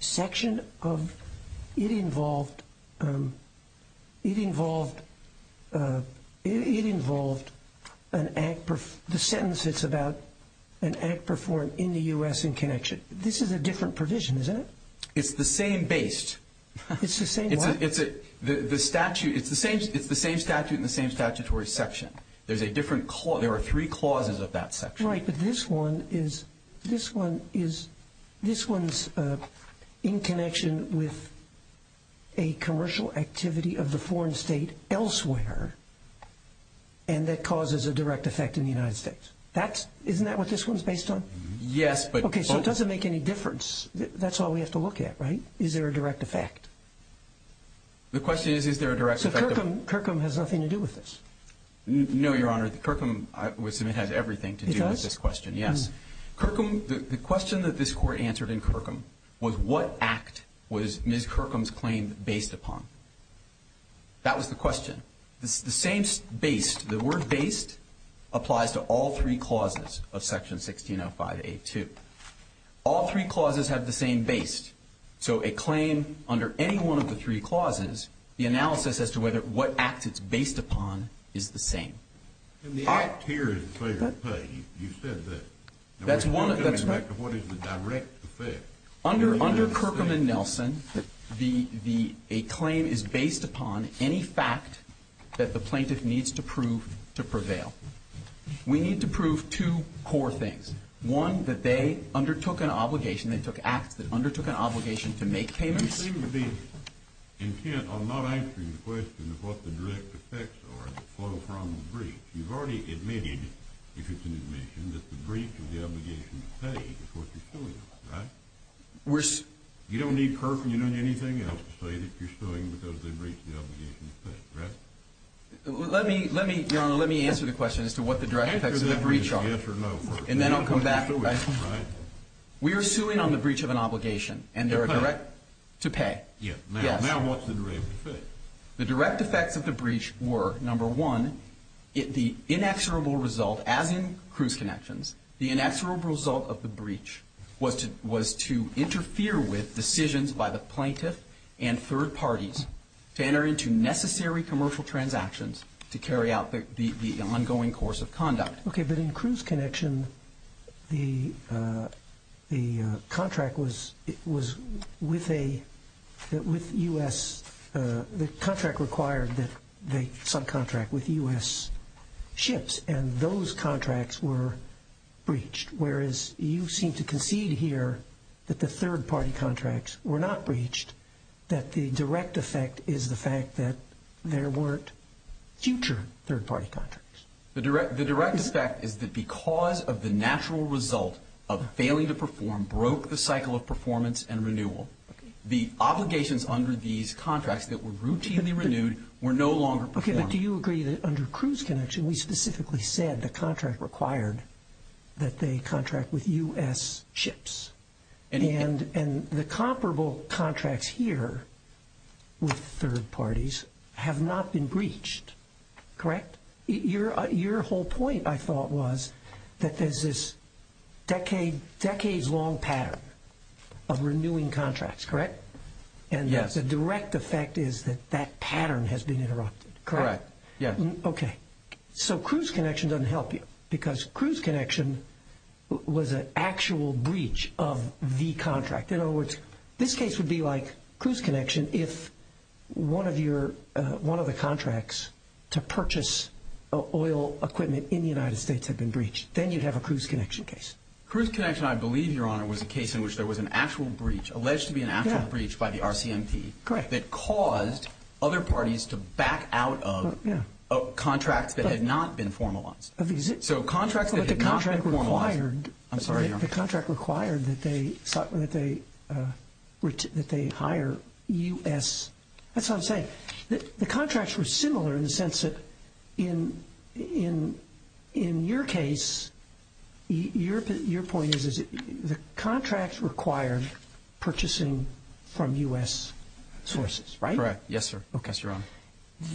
section of, it involved an act, the sentence it's about an act performed in the U.S. in connection. This is a different provision, isn't it? It's the same base. It's the same what? It's the same statute in the same statutory section. There's a different clause. There are three clauses of that section. You're right that this one is in connection with a commercial activity of the foreign state elsewhere and that causes a direct effect in the United States. Isn't that what this one's based on? Yes. Okay, so it doesn't make any difference. That's all we have to look at, right? Is there a direct effect? The question is, is there a direct effect? Kirkham has nothing to do with this. No, Your Honor. Kirkham, I assume, has everything to do with this question. He does? Yes. Kirkham, the question that this Court answered in Kirkham was, what act was Ms. Kirkham's claim based upon? That was the question. The same base, the word base, applies to all three clauses of Section 1605A2. All three clauses have the same base, so a claim under any one of the three clauses, the analysis as to whether what act it's based upon is the same. Here is clear, but you said that. That's one of the things. What is the direct effect? Under Kirkham and Nelson, a claim is based upon any fact that the plaintiff needs to prove to prevail. We need to prove two core things. One, that they undertook an obligation, they undertook an obligation to make payments. You seem to be intent on not answering the question of what the direct effects are on a crime of breach. You've already admitted, Your Honor, that the breach of the obligation to pay is what you're suing, right? You don't need Kirkham, you don't need anything else to say that you're suing because they breached the obligation to pay, right? Let me answer the question as to what the direct effects of the breach are, and then I'll come back. We are suing on the breach of an obligation to pay. Yes. Now what's the direct effect? The direct effect of the breach were, number one, the inexorable result, as in cruise connections, the inexorable result of the breach was to interfere with decisions by the plaintiff and third parties to enter into necessary commercial transactions to carry out the ongoing course of conduct. Okay, but in cruise connection, the contract was with U.S. The contract required that the subcontract with U.S. ships, and those contracts were breached, whereas you seem to concede here that the third-party contracts were not breached, that the direct effect is the fact that there weren't future third-party contracts. The direct effect is that because of the natural result of failing to perform, broke the cycle of performance and renewal, the obligations under these contracts that were routinely renewed were no longer performed. Okay, but do you agree that under cruise connection, we specifically said the contract required that they contract with U.S. ships, and the comparable contracts here with third parties have not been breached, correct? Your whole point, I thought, was that there's this decades-long pattern of renewing contracts, correct? Yes. And the direct effect is that that pattern has been interrupted, correct? Correct, yes. Okay, so cruise connection doesn't help you because cruise connection was an actual breach of the contract. In other words, this case would be like cruise connection and if one of the contracts to purchase oil equipment in the United States had been breached, then you'd have a cruise connection case. Cruise connection, I believe, Your Honor, was a case in which there was an actual breach, alleged to be an actual breach by the RCMP, that caused other parties to back out of a contract that had not been formalized. The contract required that they hire U.S. That's what I'm saying. The contracts were similar in the sense that in your case, your point is that the contract required purchasing from U.S. sources, right? Correct, yes, sir. Okay.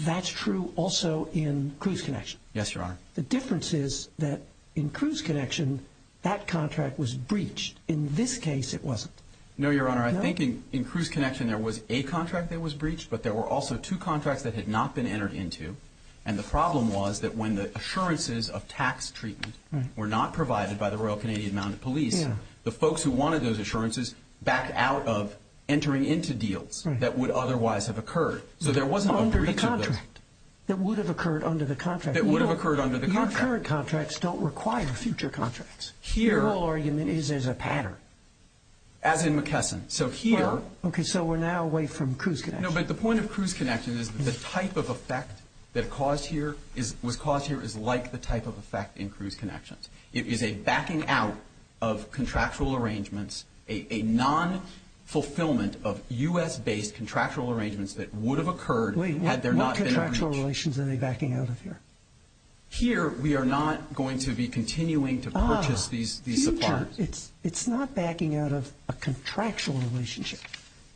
That's true also in cruise connection. Yes, Your Honor. The difference is that in cruise connection, that contract was breached. In this case, it wasn't. No, Your Honor. I think in cruise connection there was a contract that was breached, but there were also two contracts that had not been entered into. And the problem was that when the assurances of tax treatment were not provided by the Royal Canadian Mounted Police, the folks who wanted those assurances backed out of entering into deals that would otherwise have occurred. Under the contract. That would have occurred under the contract. That would have occurred under the contract. Your current contracts don't require future contracts. Your whole argument is there's a pattern. As in McKesson. Okay, so we're now away from cruise connection. No, but the point of cruise connection is the type of effect that was caused here is like the type of effect in cruise connections. It is a backing out of contractual arrangements, a non-fulfillment of U.S.-based contractual arrangements that would have occurred had there not been. Wait, what contractual relations are they backing out of here? Here, we are not going to be continuing to purchase these apartments. Ah, future. It's not backing out of a contractual relationship.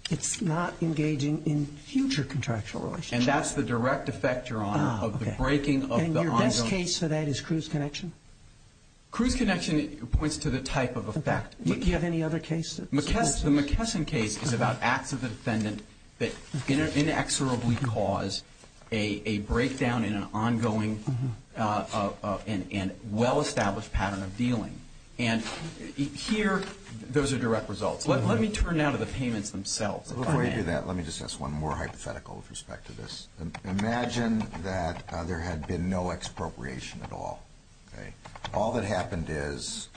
It's not engaging in future contractual relationships. And that's the direct effect, Your Honor, of the breaking of the ongoing. And your best case for that is cruise connection? Cruise connection points to the type of effect. Do you have any other cases? The McKesson case is about active defendant that inexorably caused a breakdown in an ongoing and well-established pattern of dealing. And here, those are direct results. Let me turn now to the payments themselves. Before I do that, let me just ask one more hypothetical with respect to this. Imagine that there had been no expropriation at all. Okay. All that happened is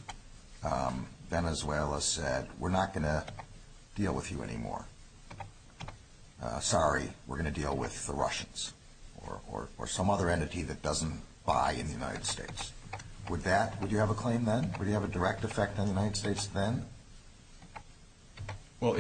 Venezuela said, we're not going to deal with you anymore. Sorry, we're going to deal with the Russians or some other entity that doesn't buy in the United States. Would that, would you have a claim then? Would you have a direct effect on the United States then? Well,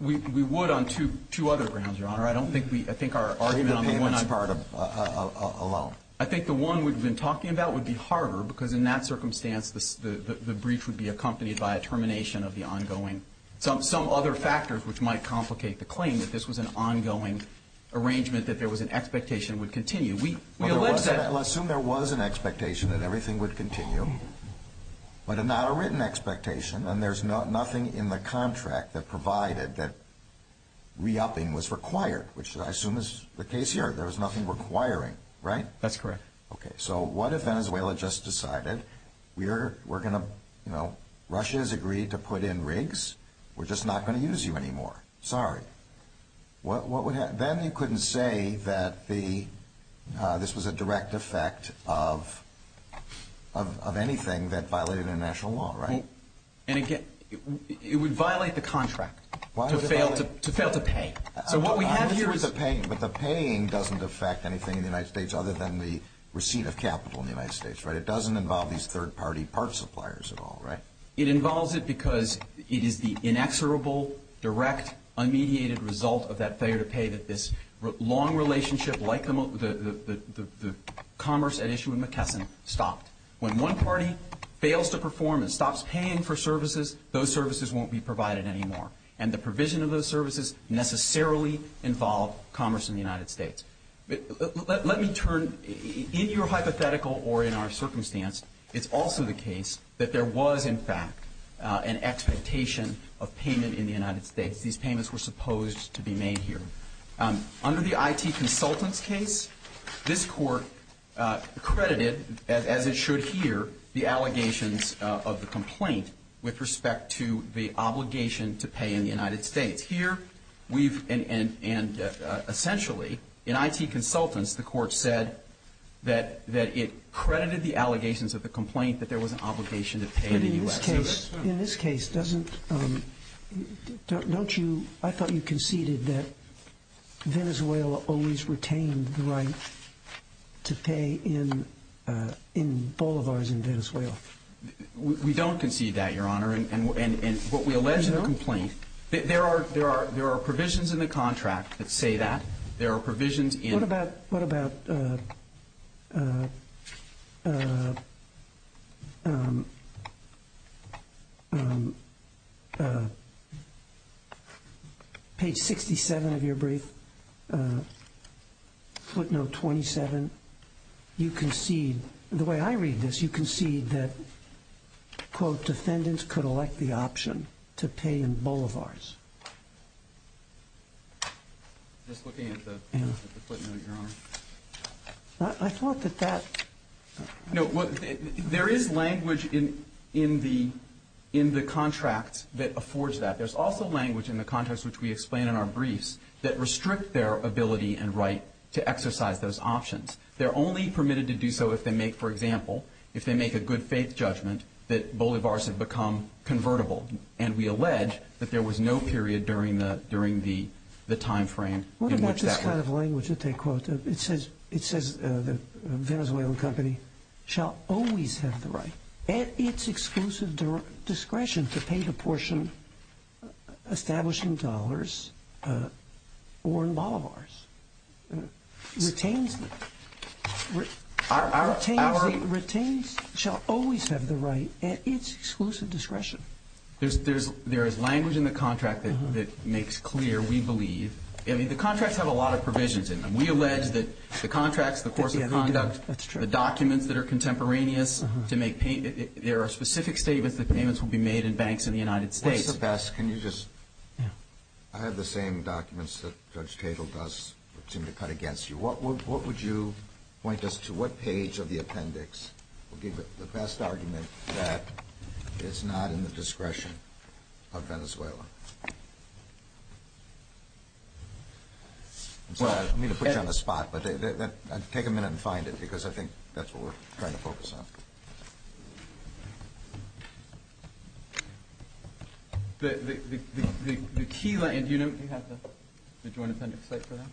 we would on two other things, Your Honor. I don't think we, I think our argument on the one on... Even on part of a loan? I think the one we've been talking about would be harder because in that circumstance, the brief would be accompanied by a termination of the ongoing. Some other factors which might complicate the claim, but this was an ongoing arrangement that there was an expectation it would continue. Well, assume there was an expectation that everything would continue, but not a written expectation, and there's nothing in the contract that provided that re-upping was required, which I assume is the case here. There was nothing requiring, right? That's correct. Okay, so what if Venezuela just decided, we're going to, you know, Russia has agreed to put in rigs. We're just not going to use you anymore. Sorry. What would happen? Then they couldn't say that this was a direct effect of anything that violated international law, right? And again, it would violate the contract to fail to pay. But the paying doesn't affect anything in the United States other than the receipt of capital in the United States, right? It doesn't involve these third-party parts suppliers at all, right? It involves it because it is the inexorable, direct, unmediated result of that failure to pay that this long relationship like the commerce at issue with McKesson stopped. When one party fails to perform and stops paying for services, those services won't be provided anymore, and the provision of those services necessarily involve commerce in the United States. Let me turn, in your hypothetical or in our circumstance, it's also the case that there was, in fact, an expectation of payment in the United States. These payments were supposed to be made here. Under the IT consultant case, this court credited, as it should here, the allegations of the complaint with respect to the obligation to pay in the United States. Here, we've, and essentially, in IT consultants, the court said that it credited the allegations of the complaint that there was an obligation to pay in the U.S. In this case, doesn't, don't you, I thought you conceded that Venezuela always retained the right to pay in boulevards in Venezuela. We don't concede that, Your Honor, and what we allege is a complaint. There are provisions in the contract that say that. What about, what about page 67 of your brief, footnote 27? You concede, the way I read this, you concede that, quote, defendants could elect the option to pay in boulevards. Just looking at the footnote, Your Honor. I thought that that. No, there is language in the contract that affords that. There's also language in the contract, which we explain in our briefs, that restricts their ability and right to exercise those options. They're only permitted to do so if they make, for example, if they make a good faith judgment that boulevards have become convertible. And we allege that there was no period during the, during the timeframe. What about this kind of language that they quote? It says, it says that the Venezuelan company shall always have the right, at its exclusive discretion, to pay a portion established in dollars or in boulevards. Retains the, retains the, retains, shall always have the right at its exclusive discretion. There's, there's, there is language in the contract that, that makes clear, we believe, I mean, the contracts have a lot of provisions in them. We allege that the contracts, the course of conduct, the documents that are contemporaneous to make payment, there are specific statements that payments will be made in banks in the United States. Mr. Best, can you just, I have the same documents that Judge Cagle does that seem to cut against you. What would, what would you point us to, what page of the appendix would be the best argument that it's not in the discretion of Venezuela? I'm sorry, I didn't mean to put you on the spot, but take a minute and find it because I think that's what we're trying to focus on. The, the, the, the, the key line, do you know what you have there? The Joint Appendix, right there.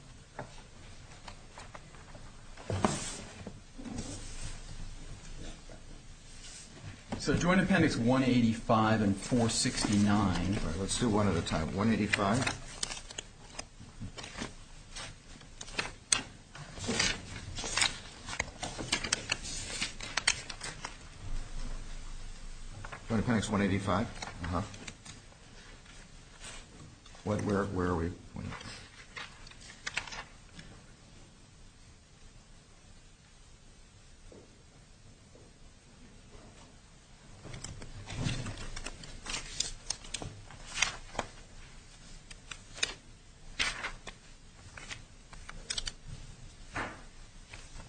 So Joint Appendix 185 and 469. Let's do one at a time. 185. Joint Appendix 185. Uh-huh. What, where, where are we?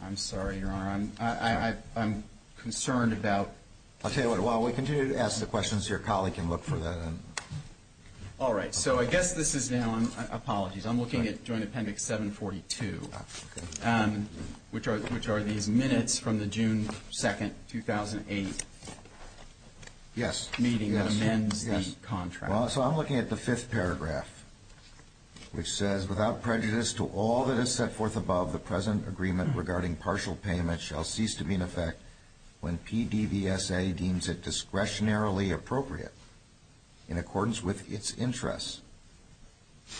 I'm sorry, Your Honor, I'm, I, I, I'm concerned about, I'll tell you what, while we continue to ask the questions, your colleague can look for that. All right, so I guess this is, you know, apologies, I'm looking at Joint Appendix 742, which are, which are these minutes from the June 2nd, 2008 meeting that amends the contract. Well, so I'm looking at the fifth paragraph, which says, without prejudice to all that is set forth above, the present agreement regarding partial payment shall cease to be in effect when PDVSA deems it discretionarily appropriate, in accordance with its interests,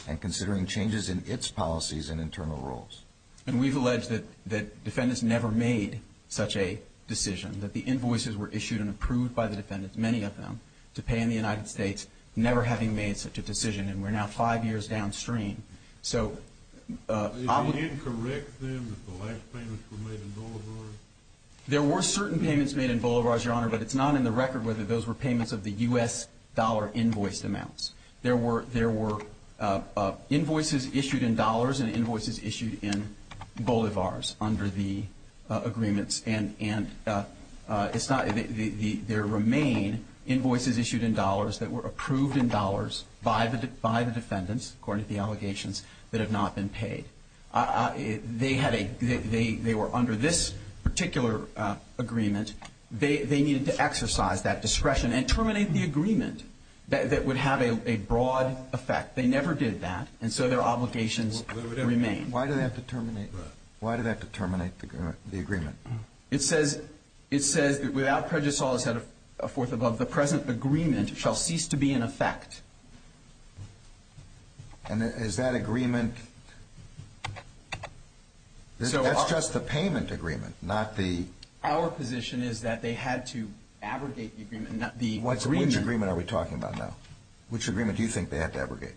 and considering changes in its policies and internal rules. And we've alleged that, that defendants never made such a decision, that the invoices were issued and approved by the defendants, many of them, to pay in the United States, never having made such a decision, and we're now five years downstream. Is it incorrect, then, that the last payments were made in boulevards? There were certain payments made in boulevards, Your Honor, but it's not in the record whether those were payments of the U.S. dollar invoiced amounts. There were, there were invoices issued in dollars and invoices issued in boulevards under the agreements, and, and it's not, there remain invoices issued in dollars that were approved in dollars by the defendants, according to the allegations, that have not been paid. They had a, they were under this particular agreement. They needed to exercise that discretion and terminate the agreement that would have a broad effect. They never did that, and so their obligations remain. Why do they have to terminate, why do they have to terminate the agreement? It says, it says, without prejudice, all that is set forth above, the present agreement shall cease to be in effect. And is that agreement, that's just the payment agreement, not the? Our position is that they had to abrogate the agreement, not the agreement. What agreement are we talking about now? Which agreement do you think they have to abrogate?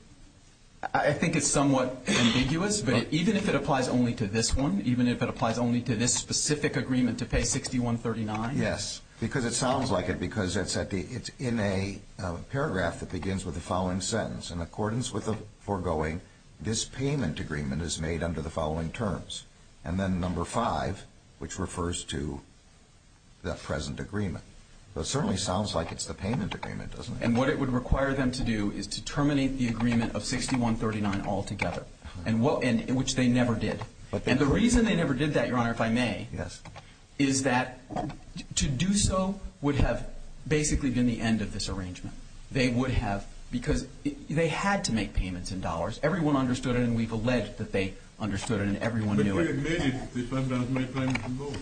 I think it's somewhat ambiguous, but even if it applies only to this one, even if it applies only to this specific agreement to pay $61.39. Yes, because it sounds like it, because it's in a paragraph that begins with the following sentence, in accordance with the foregoing, this payment agreement is made under the following terms. And then number five, which refers to that present agreement. It certainly sounds like it's the payment agreement, doesn't it? And what it would require them to do is to terminate the agreement of $61.39 altogether, which they never did. And the reason they never did that, Your Honor, if I may, is that to do so would have basically been the end of this arrangement. They would have, because they had to make payments in dollars. Everyone understood it, and we've alleged that they understood it, and everyone knew it. But they admitted they turned down to make payments in dollars.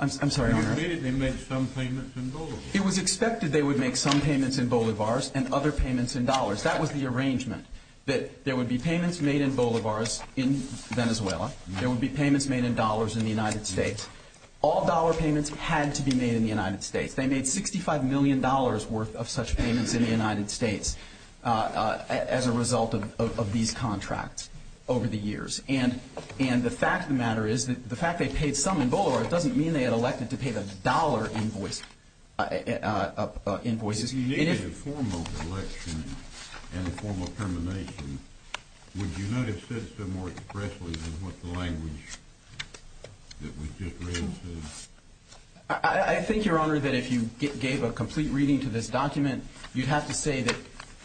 I'm sorry, Your Honor. They admitted they made some payments in dollars. It was expected they would make some payments in bolivars and other payments in dollars. That was the arrangement, that there would be payments made in bolivars in Venezuela, there would be payments made in dollars in the United States. All dollar payments had to be made in the United States. They made $65 million worth of such payments in the United States as a result of these contracts over the years. And the fact of the matter is that the fact they paid some in bolivars doesn't mean they had elected to pay the dollar invoices. If you needed a formal election and a formal termination, would you not have said so more expressly than what the language that was just read says? I think, Your Honor, that if you gave a complete reading to this document, you'd have to say that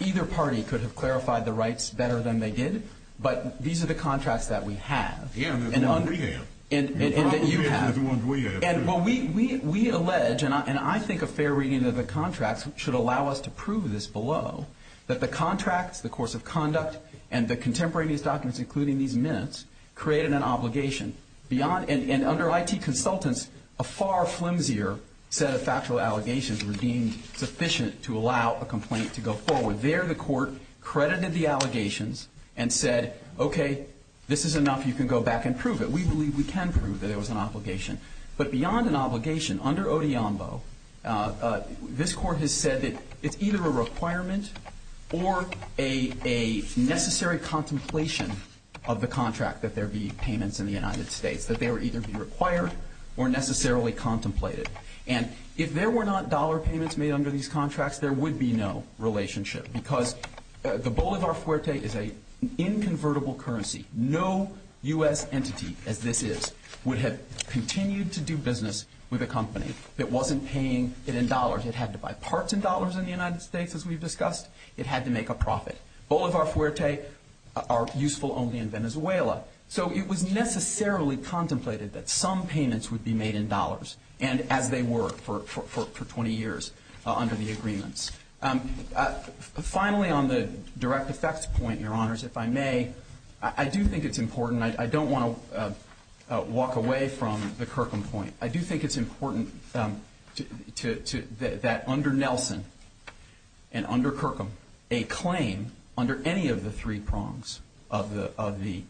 either party could have clarified the rights better than they did, but these are the contracts that we have. Yeah, the ones we have. And that you have. Well, even the ones we have. And we allege, and I think a fair reading of the contracts should allow us to prove this below, that the contracts, the course of conduct, and the contemporary documents, including these minutes, created an obligation. And under IT consultants, a far flimsier set of factual allegations were deemed sufficient to allow a complaint to go forward. There the court credited the allegations and said, okay, this is enough. You can go back and prove it. We believe we can prove that it was an obligation. But beyond an obligation, under ODIAMBO, this court has said it's either a requirement or a necessary contemplation of the contract that there be payments in the United States, that they would either be required or necessarily contemplated. And if there were not dollar payments made under these contracts, there would be no relationship, because the bolivar fuerte is an inconvertible currency. No U.S. entity, as this is, would have continued to do business with a company that wasn't paying it in dollars. It had to buy parts in dollars in the United States, as we've discussed. It had to make a profit. Bolivar fuerte are useful only in Venezuela. So it was necessarily contemplated that some payments would be made in dollars, and as they were for 20 years under the agreements. Finally, on the direct effects point, Your Honors, if I may, I do think it's important. I don't want to walk away from the Kirkham point. I do think it's important that under Nelson and under Kirkham, a claim under any of the three prongs of the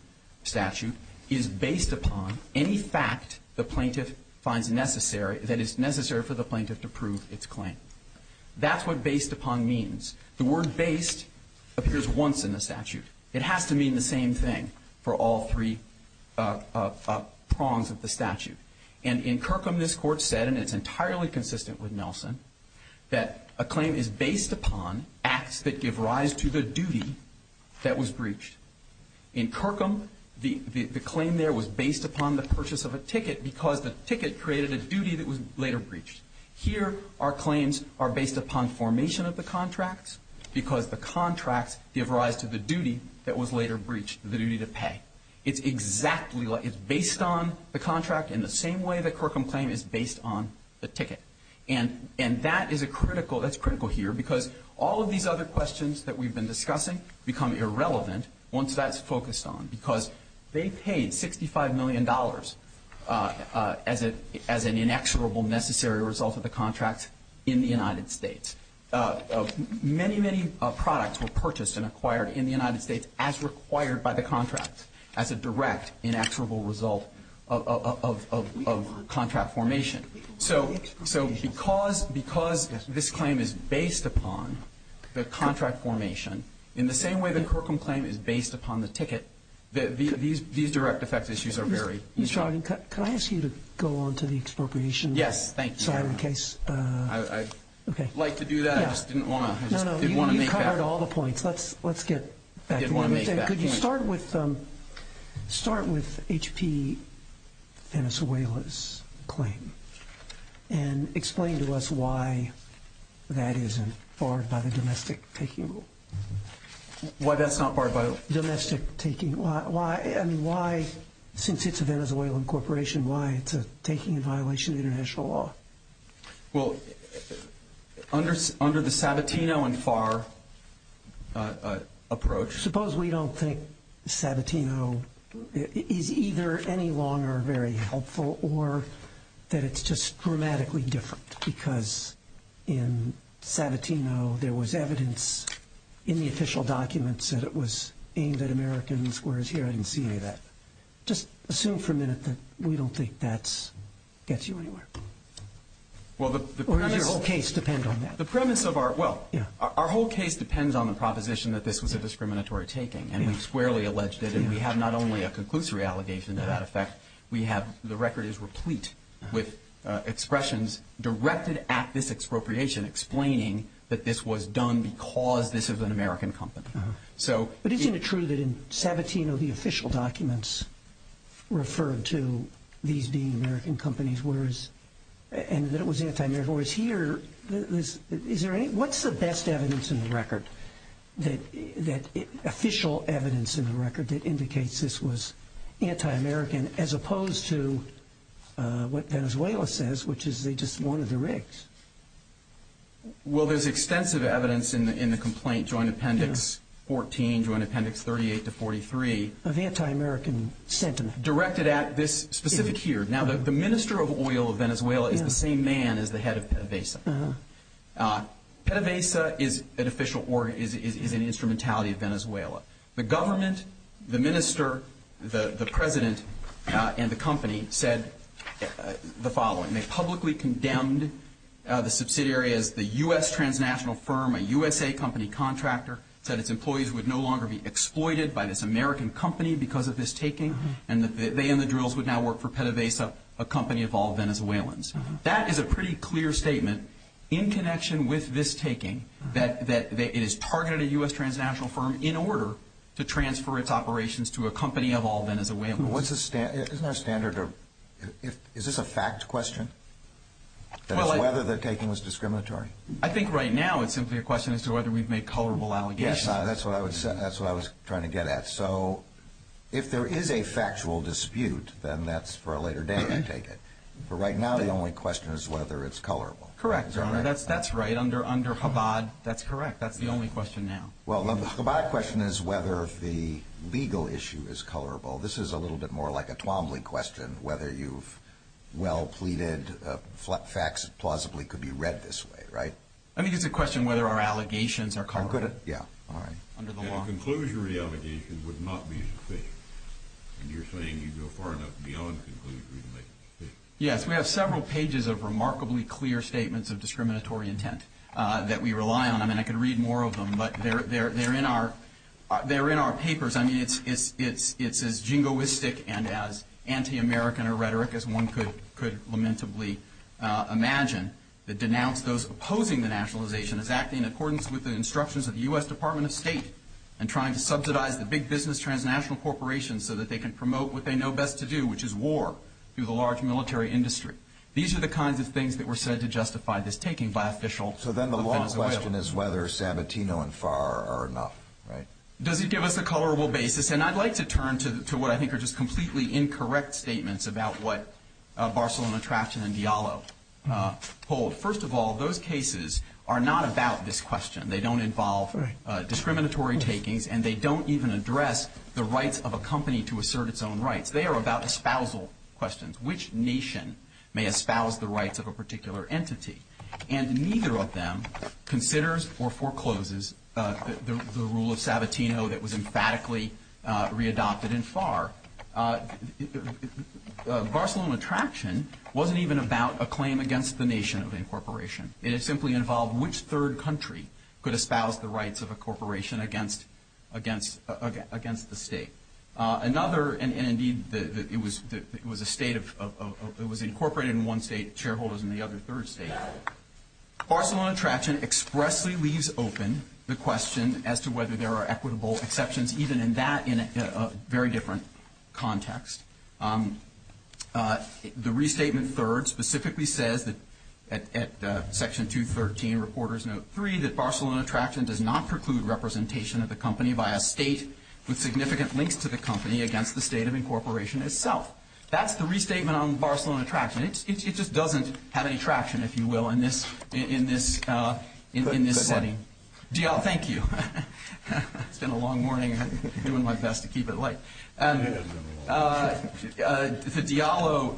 statute is based upon any fact the plaintiff finds necessary that is necessary for the plaintiff to prove its claim. That's what based upon means. The word based appears once in the statute. It has to mean the same thing for all three prongs of the statute. And in Kirkham, this court said, and it's entirely consistent with Nelson, that a claim is based upon acts that give rise to the duty that was breached. In Kirkham, the claim there was based upon the purchase of a ticket, because the ticket created a duty that was later breached. Here, our claims are based upon formation of the contracts, because the contracts give rise to the duty that was later breached, the duty to pay. It's exactly like it's based on the contract in the same way that Kirkham claim is based on the ticket. And that is a critical, that's critical here, because all of these other questions that we've been discussing become irrelevant once that's focused on, because they paid $65 million as an inexorable necessary result of the contract in the United States. Many, many products were purchased and acquired in the United States as required by the contract, as a direct inexorable result of contract formation. So because this claim is based upon the contract formation, in the same way that Kirkham claim is based upon the ticket, these direct effect issues are varied. Mr. Ogden, can I ask you to go on to the expropriation? Yes, thank you. I'd like to do that. No, no, you covered all the points. Let's get back. Could you start with H.P. Venezuela's claim and explain to us why that isn't barred by the domestic taking law? Why that's not barred by the domestic taking law? And why, since it's a Venezuelan corporation, why it's a taking violation of international law? Well, under the Sabatino and Farr approach. Suppose we don't think Sabatino is either any longer very helpful or that it's just grammatically different, because in Sabatino there was evidence in the official documents that it was aimed at Americans, whereas here I didn't see any of that. Just assume for a minute that we don't think that gets you anywhere. Or does your whole case depend on that? Well, our whole case depends on the proposition that this was a discriminatory taking, and it's squarely alleged that we have not only a conclusory allegation to that effect, the record is replete with expressions directed at this expropriation explaining that this was done because this is an American company. But isn't it true that in Sabatino the official documents refer to these being American companies, and that it was anti-American? Whereas here, what's the best evidence in the record, official evidence in the record that indicates this was anti-American as opposed to what Venezuela says, which is they just wanted the rigs? Well, there's extensive evidence in the complaint joint appendix 14, joint appendix 38 to 43. Of anti-American sentiment. Directed at this specific here. Now, the minister of oil of Venezuela is the same man as the head of PDVSA. PDVSA is an instrumentality of Venezuela. The government, the minister, the president, and the company said the following. They publicly condemned the subsidiary as the U.S. transnational firm, a USA company contractor, said its employees would no longer be exploited by this American company because of this taking, and that they and the drills would now work for PDVSA, a company of all Venezuelans. That is a pretty clear statement in connection with this taking, that it is targeted at a U.S. transnational firm in order to transfer its operations to a company of all Venezuelans. Isn't that a standard? Is this a fact question? Whether the taking was discriminatory? I think right now it's simply a question as to whether we've made colorable allegations. That's what I was trying to get at. So if there is a factual dispute, then that's for a later day in taking. But right now the only question is whether it's colorable. Correct. That's right. Under FABAD, that's correct. That's the only question now. Well, the FABAD question is whether the legal issue is colorable. This is a little bit more like a Twombly question, whether you've well pleaded facts that plausibly could be read this way, right? I think it's a question whether our allegations are colorable. Yeah. A conclusionary allegation would not be sufficient. You're saying you go far enough beyond conclusionary. Yes. We have several pages of remarkably clear statements of discriminatory intent that we rely on. I mean, I could read more of them, but they're in our papers. I mean, it's as jingoistic and as anti-American a rhetoric as one could lamentably imagine that denounced those opposing the nationalization as acting in accordance with the instructions of the U.S. Department of State and trying to subsidize the big business transnational corporations so that they can promote what they know best to do, which is war through the large military industry. These are the kinds of things that were said to justify this taking by officials. So then the long question is whether Sanatino and FAR are enough, right? Does it give us a colorable basis? I'd like to turn to what I think are just completely incorrect statements about what Barcelona, Trachten, and Diallo hold. First of all, those cases are not about this question. They don't involve discriminatory takings, and they don't even address the rights of a company to assert its own rights. They are about espousal questions, which nation may espouse the rights of a particular entity. And neither of them considers or forecloses the rule of Sanatino that was emphatically readopted in FAR. Barcelona and Trachten wasn't even about a claim against the nation of the incorporation. It simply involved which third country could espouse the rights of a corporation against the state. Another, and indeed it was a state of – it was incorporated in one state, shareholders in the other third state. Barcelona and Trachten expressly leaves open the question as to whether there are equitable exceptions, even in that – in a very different context. The restatement third specifically says that – at Section 213, Reporters Note 3, that Barcelona and Trachten does not preclude representation of the company by a state with significant links to the company against the state of incorporation itself. That's the restatement on Barcelona and Trachten. It just doesn't have any traction, if you will, in this setting. Diallo, thank you. It's been a long morning. I'm doing my best to keep it light. The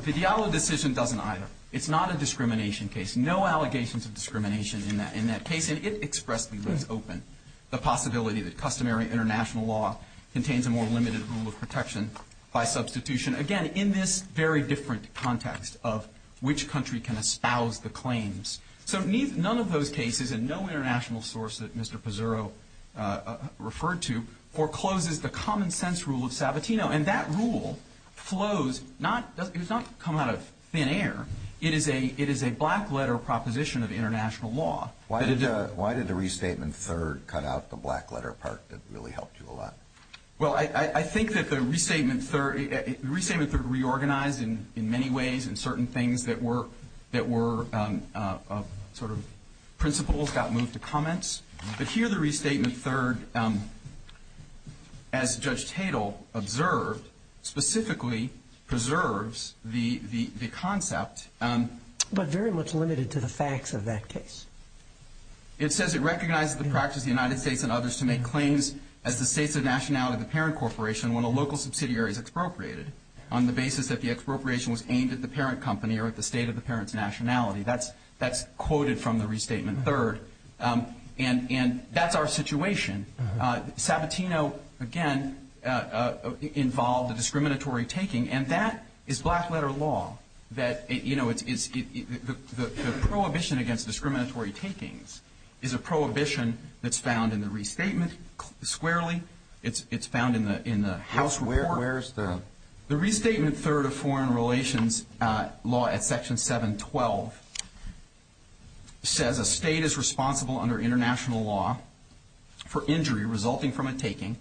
Diallo decision doesn't either. It's not a discrimination case. There's no allegations of discrimination in that case, and it expressly leaves open the possibility that customary international law contains a more limited rule of protection by substitution. Again, in this very different context of which country can espouse the claims. So none of those cases and no international source that Mr. Pizzurro referred to forecloses the common sense rule of Sabatino. And that rule flows – it's not come out of thin air. It is a black letter proposition of international law. Why did the restatement third cut out the black letter part that really helped you a lot? Well, I think that the restatement third reorganized in many ways in certain things that were sort of principles that moved to comments. But here the restatement third, as Judge Tatel observed, specifically preserves the concept. But very much limited to the facts of that case. It says it recognizes the practice of the United States and others to make claims as the states of nationality of the parent corporation when a local subsidiary is expropriated on the basis that the expropriation was aimed at the parent company or at the state of the parent's nationality. That's quoted from the restatement third. And that's our situation. Sabatino, again, involved the discriminatory taking. And that is black letter law that – the prohibition against discriminatory takings is a prohibition that's found in the restatement squarely. It's found in the House report. Where is the – The restatement third of foreign relations law at section 712 says a state is responsible under international law for injury resulting from a taking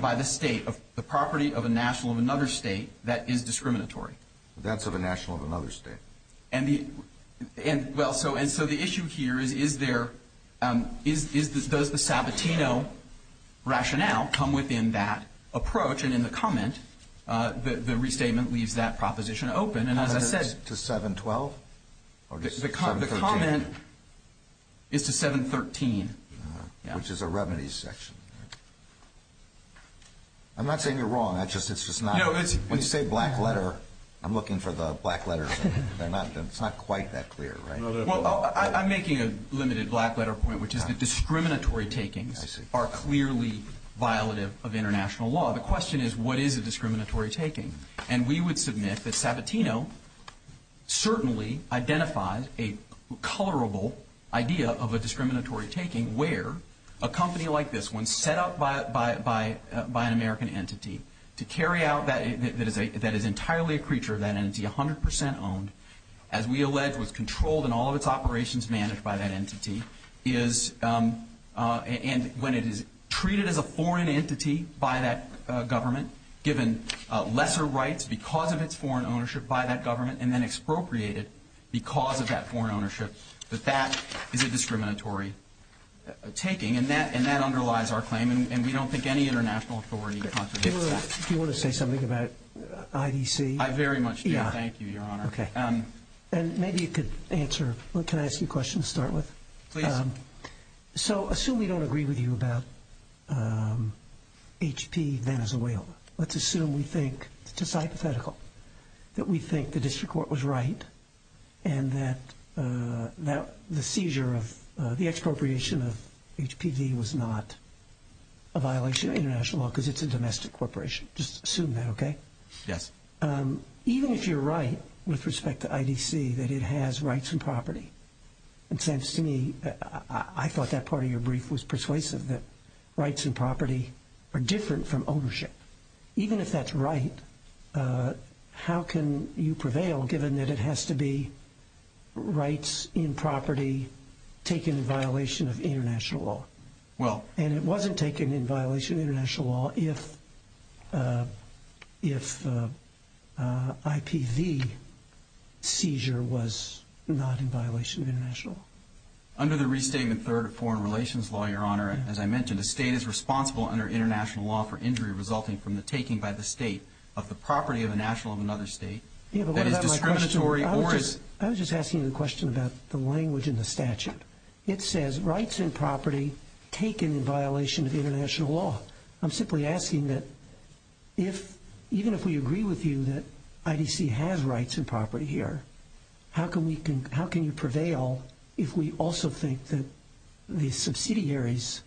by the state of the property of a national of another state that is discriminatory. That's of a national of another state. And so the issue here is there – does the Sabatino rationale come within that approach? And in the comment, the restatement leaves that proposition open. And as I said – To 712? The comment is to 713. Which is a remedies section. I'm not saying you're wrong. It's just not – No, it's – When you say black letter, I'm looking for the black letters. It's not quite that clear, right? Well, I'm making a limited black letter point, which is that discriminatory takings are clearly violative of international law. The question is what is a discriminatory taking? And we would submit that Sabatino certainly identifies a colorable idea of a discriminatory taking where a company like this one set up by an American entity to carry out – that is entirely a creature of that entity, 100% owned, as we allege was controlled in all of its operations managed by that entity, is – and when it is treated as a foreign entity by that government, given lesser rights because of its foreign ownership by that government, and then expropriated because of that foreign ownership, that that is a discriminatory taking. And that underlies our claim. And we don't think any international authority – Do you want to say something about IDC? I very much do. Thank you, Your Honor. Okay. And maybe you could answer – well, can I ask you a question to start with? Please. So assume we don't agree with you about HP Venezuela. Let's assume we think – it's a hypothetical – that we think the district court was right and that the seizure of – the expropriation of HPV was not a violation of international law because it's a domestic corporation. Just assume that, okay? Yes. Even if you're right with respect to IDC that it has rights and property, it seems to me – I thought that part of your brief was persuasive, that rights and property are different from ownership. Even if that's right, how can you prevail given that it has to be rights in property taken in violation of international law? Well – And it wasn't taken in violation of international law if the IPV seizure was not in violation of international law. Under the restatement third of foreign relations law, Your Honor, as I mentioned, a state is responsible under international law for injury resulting from the taking by the state of the property of a national of another state that is discriminatory or is – I was just asking you the question about the language in the statute. It says rights and property taken in violation of international law. I'm simply asking that if – even if we agree with you that IDC has rights and property here, how can we – how can you prevail if we also think that the subsidiary's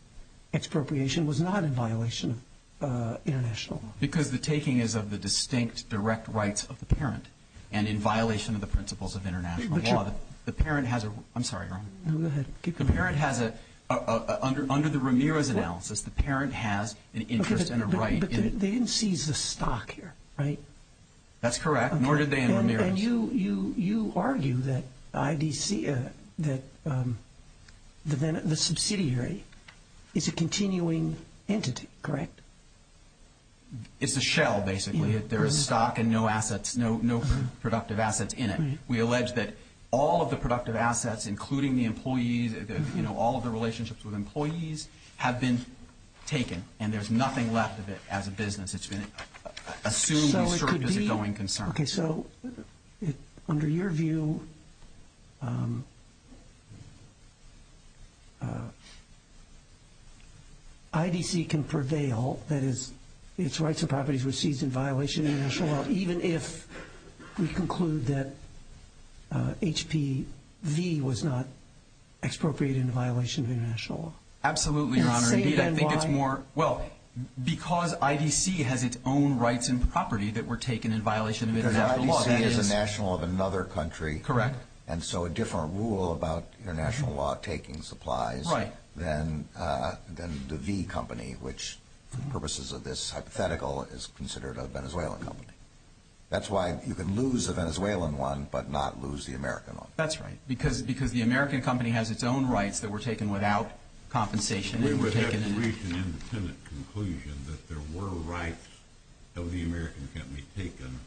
expropriation was not in violation of international law? Because the taking is of the distinct direct rights of the parent and in violation of the principles of international law. The parent has a – I'm sorry, Your Honor. No, go ahead. Keep going. The parent has a – under the Ramirez analysis, the parent has an interest and a right in – But they didn't seize the stock here, right? That's correct, nor did they in Ramirez. And you argue that IDC – that the subsidiary is a continuing entity, correct? It's a shell, basically, that there is stock and no assets – no productive assets in it. We allege that all of the productive assets, including the employee – all of the relationships with employees have been taken, and there's nothing left of it as a business. It's been assumed and asserted as knowing concern. Okay, so under your view, IDC can prevail, that is, its rights and properties were seized in violation of international law, even if we conclude that HPV was not expropriated in violation of international law? Absolutely, Your Honor. Well, because IDC has its own rights and property that were taken in violation of international law, that is – Because IDC is a national of another country. Correct. And so a different rule about international law taking supplies than the V Company, which, for purposes of this hypothetical, is considered a Venezuelan company. That's why you can lose the Venezuelan one but not lose the American one. That's right, because the American company has its own rights that were taken without compensation. So you would have an independent conclusion that there were rights of the American company taken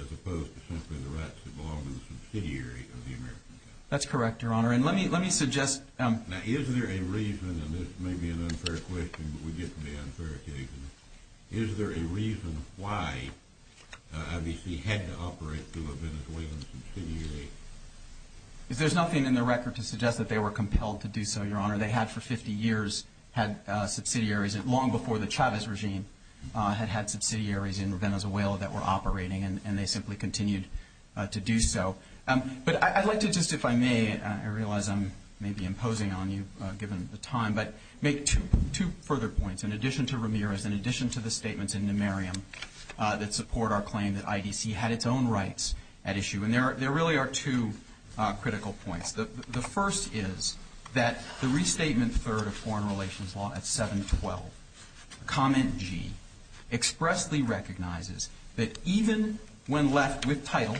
as opposed to simply the rights of the subsidiary of the American company? That's correct, Your Honor. And let me suggest – Now, is there a reason – and this may be an unfair question, but we get to the unfair occasion – is there a reason why IDC had to operate through a Venezuelan subsidiary? There's nothing in the record to suggest that they were compelled to do so, Your Honor. They had, for 50 years, had subsidiaries long before the Chavez regime had had subsidiaries in Venezuela that were operating, and they simply continued to do so. But I'd like to just, if I may – I realize I'm maybe imposing on you, given the time – but make two further points. In addition to Ramirez, in addition to the statements in De Mariam that support our claim that IDC had its own rights at issue – and there really are two critical points. The first is that the Restatement Third of Foreign Relations Law at 712, Comment G, expressly recognizes that even when left with title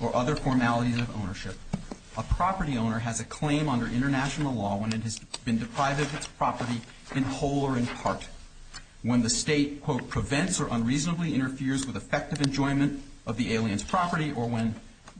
or other formalities of ownership, a property owner has a claim under international law when it has been deprived of its property in whole or in part, when the state, quote, prevents or unreasonably interferes with effective enjoyment of the alien's property or when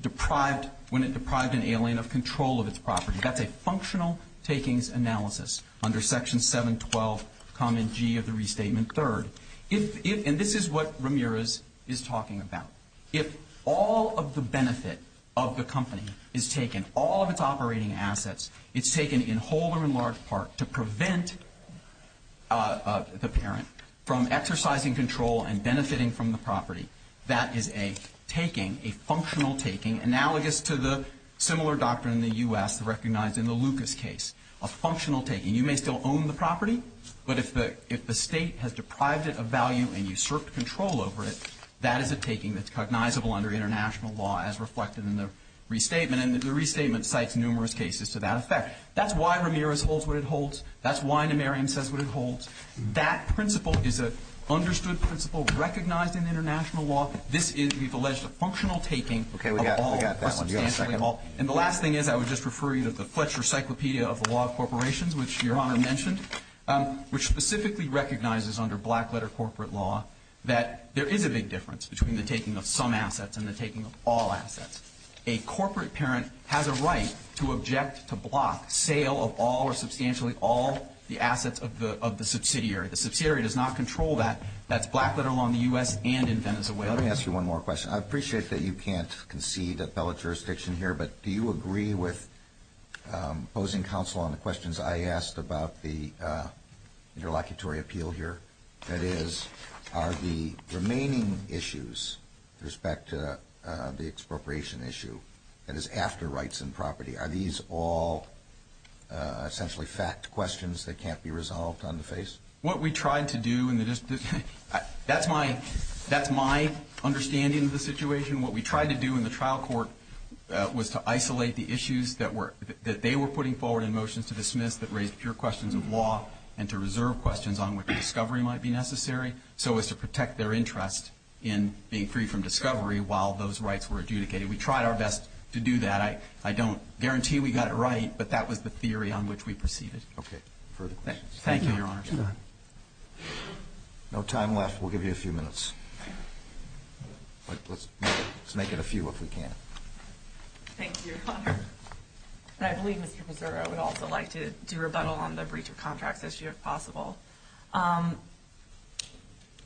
it deprives an alien of control of its property. That's a functional takings analysis under Section 712, Comment G of the Restatement Third. And this is what Ramirez is talking about. If all of the benefit of the company is taken, all of its operating assets, it's taken in whole or in large part to prevent the parent from exercising control and benefiting from the property, that is a taking, a functional taking, analogous to the similar doctrine in the U.S. recognized in the Lucas case, a functional taking. You may still own the property, but if the state has deprived it of value and usurped control over it, that is a taking that's cognizable under international law as reflected in the Restatement. And the Restatement cites numerous cases to that effect. That's why Ramirez holds what it holds. That's why Numerian says what it holds. That principle is an understood principle recognized in international law. This is, we've alleged, a functional taking. Okay, we got that one. Do you want a second? And the last thing is I would just refer you to the Fletcher Cyclopedia of the Law of Corporations, which Your Honor mentioned, which specifically recognizes under black-letter corporate law that there is a big difference between the taking of some assets and the taking of all assets. A corporate parent has a right to object to block sale of all or substantially all the assets of the subsidiary. The subsidiary does not control that. That's black-letter along the U.S. and in Venezuela. Let me ask you one more question. I appreciate that you can't concede appellate jurisdiction here, but do you agree with opposing counsel on the questions I asked about the interlocutory appeal here? That is, are the remaining issues with respect to the expropriation issue, that is after rights and property, are these all essentially fact questions that can't be resolved on the face? What we tried to do, and that's my understanding of the situation. What we tried to do in the trial court was to isolate the issues that they were putting forward in motion to dismiss that raised pure questions of law and to reserve questions on which discovery might be necessary so as to protect their interest in being free from discovery while those rights were adjudicated. We tried our best to do that. I don't guarantee we got it right, but that was the theory on which we proceeded. Okay. Further questions? Thank you, Your Honor. No time left. We'll give you a few minutes. Let's make it a few if we can. Thank you, Your Honor. I believe Mr. Pizzurro would also like to do a rebuttal on the breach of contract issue if possible.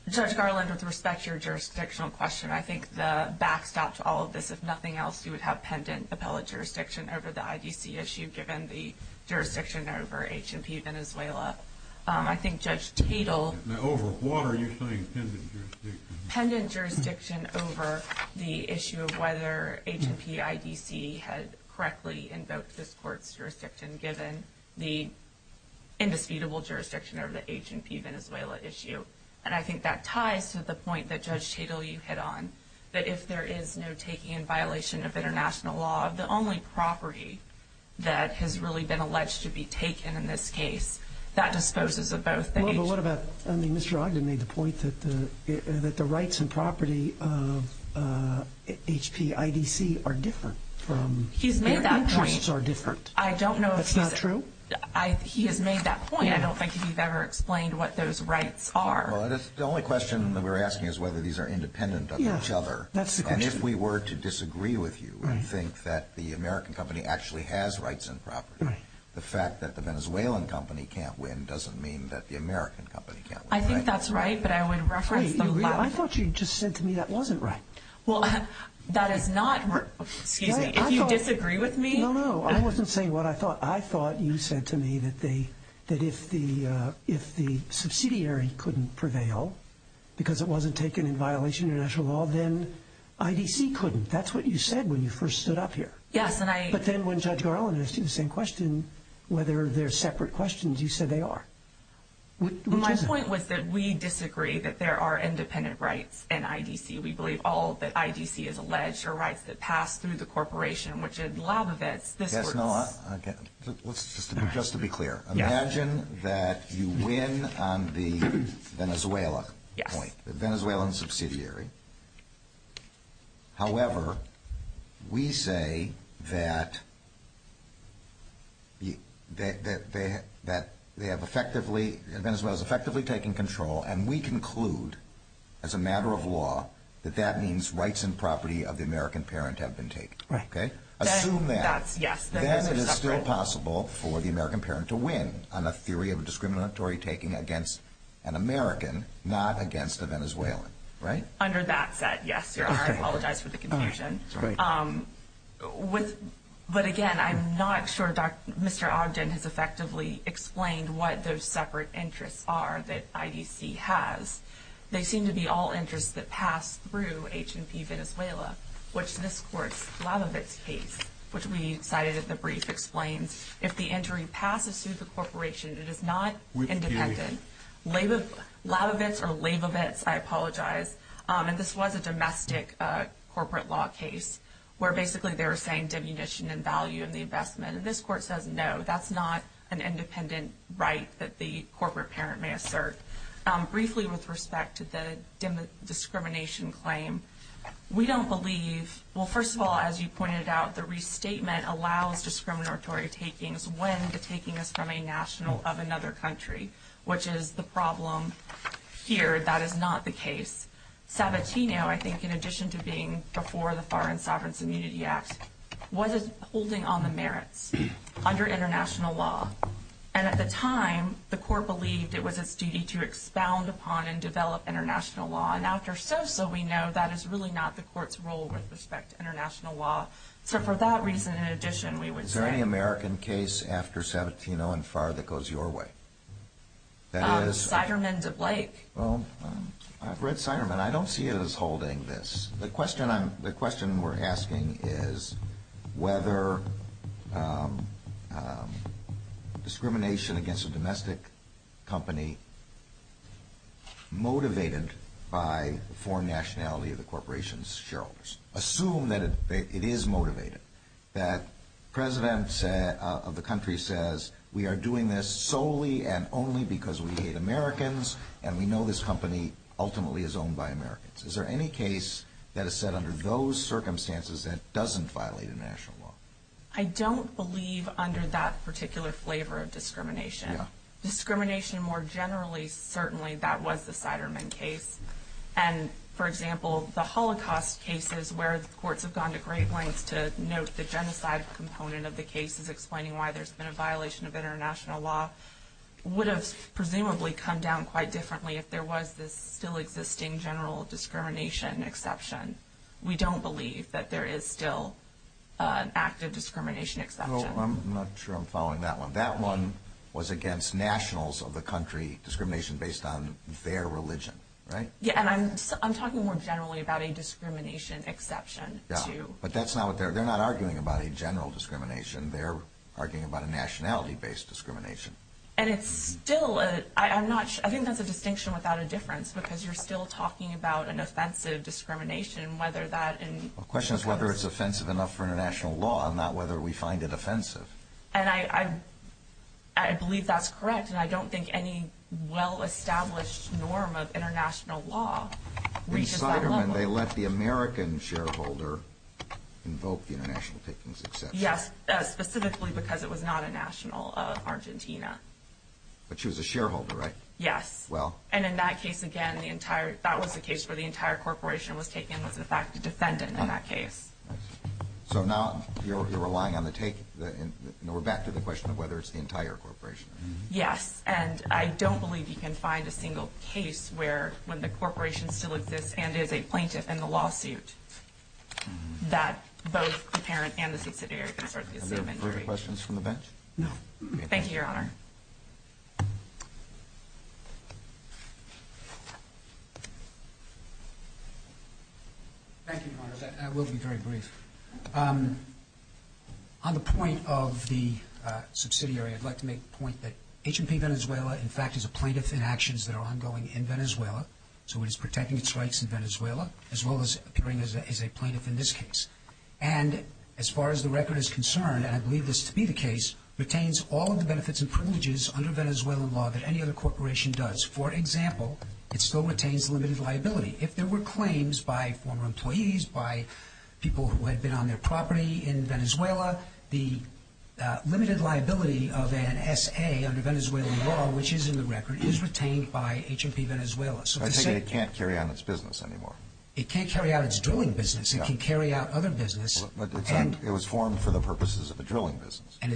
Judge Garland, with respect to your jurisdictional question, I think the backstop to all of this is nothing else without pendant appellate jurisdiction over the IDC issue given the jurisdiction over H&P Venezuela. I think Judge Tatel Now, over what are you saying, pendent jurisdiction? Pendent jurisdiction over the issue of whether H&P IDC has correctly invoked this court's jurisdiction given the indefeatable jurisdiction over the H&P Venezuela issue. And I think that ties to the point that Judge Tatel you hit on, that if there is no taking in violation of international law, the only property that has really been alleged to be taken in this case, that disposes of both states. Well, but what about Mr. Ogden made the point that the rights and property of H&P IDC are different from He's made that point. Their interests are different. I don't know if he's That's not true? He has made that point. I don't think he's ever explained what those rights are. The only question that we're asking is whether these are independent of each other. And if we were to disagree with you and think that the American company actually has rights and property, the fact that the Venezuelan company can't win doesn't mean that the American company can't win. I think that's right, but I would refer you I thought you just said to me that wasn't right. Well, that is not Do you disagree with me? No, no, I wasn't saying what I thought. You said to me that if the subsidiary couldn't prevail because it wasn't taken in violation of international law, then IDC couldn't. That's what you said when you first stood up here. Yes, and I But then when Judge Garland asked you the same question, whether they're separate questions, you said they are. My point was that we disagree that there are independent rights in IDC. We believe all that IDC has alleged are rights that pass through the corporation, which is law that Just to be clear, imagine that you win on the Venezuelan point, the Venezuelan subsidiary. However, we say that Venezuela has effectively taken control, and we conclude as a matter of law that that means rights and property of the American parent have been taken. Assume that, then it is still possible for the American parent to win on a theory of a discriminatory taking against an American, not against a Venezuelan, right? Under that, yes, I apologize for the confusion. But again, I'm not sure Mr. Ogden has effectively explained what those separate interests are that IDC has. They seem to be all interests that pass through H&P Venezuela, which this court's Labovitz case, which we cited as a brief, explains if the entry passes through the corporation, it is not independent. Labovitz or Labovitz, I apologize. And this was a domestic corporate law case where basically they were saying demunition and value in the investment. And this court says, no, that's not an independent right that the corporate parent may assert. Briefly with respect to the discrimination claim, we don't believe, well, first of all, as you pointed out, the restatement allows discriminatory takings when the taking is from a national of another country, which is the problem here. That is not the case. Sabatino, I think, in addition to being before the Foreign Sovereign Immunity Act, was holding on the merits under international law. And at the time, the court believed it was its duty to expound upon and develop international law. And after so-so, we know that is really not the court's role with respect to international law. So for that reason, in addition, we would say – Is there any American case after Sabatino and Farr that goes your way? That is – Siderman, the Blake. I've read Siderman. I don't see it as holding this. The question we're asking is whether discrimination against a domestic company motivated by the foreign nationality of the corporation's shareholders. Assume that it is motivated, that the president of the country says, we are doing this solely and only because we hate Americans and we know this company ultimately is owned by Americans. Is there any case that is set under those circumstances that doesn't violate international law? I don't believe under that particular flavor of discrimination. Yeah. Discrimination more generally, certainly, that was the Siderman case. And, for example, the Holocaust cases where the courts have gone to great lengths to note the genocide component of the cases, explaining why there's been a violation of international law, would have presumably come down quite differently if there was this still existing general discrimination exception. We don't believe that there is still an active discrimination exception. I'm not sure I'm following that one. That one was against nationals of the country, discrimination based on their religion, right? Yeah, and I'm talking more generally about a discrimination exception, too. Yeah, but that's not what they're – they're not arguing about a general discrimination. They're arguing about a nationality-based discrimination. And it's still – I'm not – I think that's a distinction without a difference, because you're still talking about an offensive discrimination, whether that – The question is whether it's offensive enough for international law, not whether we find it offensive. And I believe that's correct, and I don't think any well-established norm of international law reaches that level. With Siderman, they let the American shareholder invoke the international ticketing exception. Yes, specifically because it was not a national Argentina. But she was a shareholder, right? Yes. Well – And in that case, again, the entire – that was the case where the entire corporation was taken was the fact the defendant in that case. So now you're relying on the take – and we're back to the question of whether it's the entire corporation. Yes, and I don't believe you can find a single case where – where it is a plaintiff in the lawsuit that both the parent and the subsidiary consortium agree. Are there further questions from the bench? No. Thank you, Your Honor. Thank you, Your Honor. That will be very brief. On the point of the subsidiary, I'd like to make the point that H&P Venezuela, in fact, is a plaintiff in actions that are ongoing in Venezuela. So it is protecting its rights in Venezuela as well as appearing as a plaintiff in this case. And as far as the record is concerned, and I believe this to be the case, retains all of the benefits and privileges under Venezuelan law that any other corporation does. For example, it still retains limited liability. If there were claims by former employees, by people who had been on their property in Venezuela, the limited liability of an SA under Venezuelan law, which is in the record, is retained by H&P Venezuela. It can't carry on its business anymore. It can't carry out its drilling business. It can carry out other business. It was formed for the purposes of the drilling business. And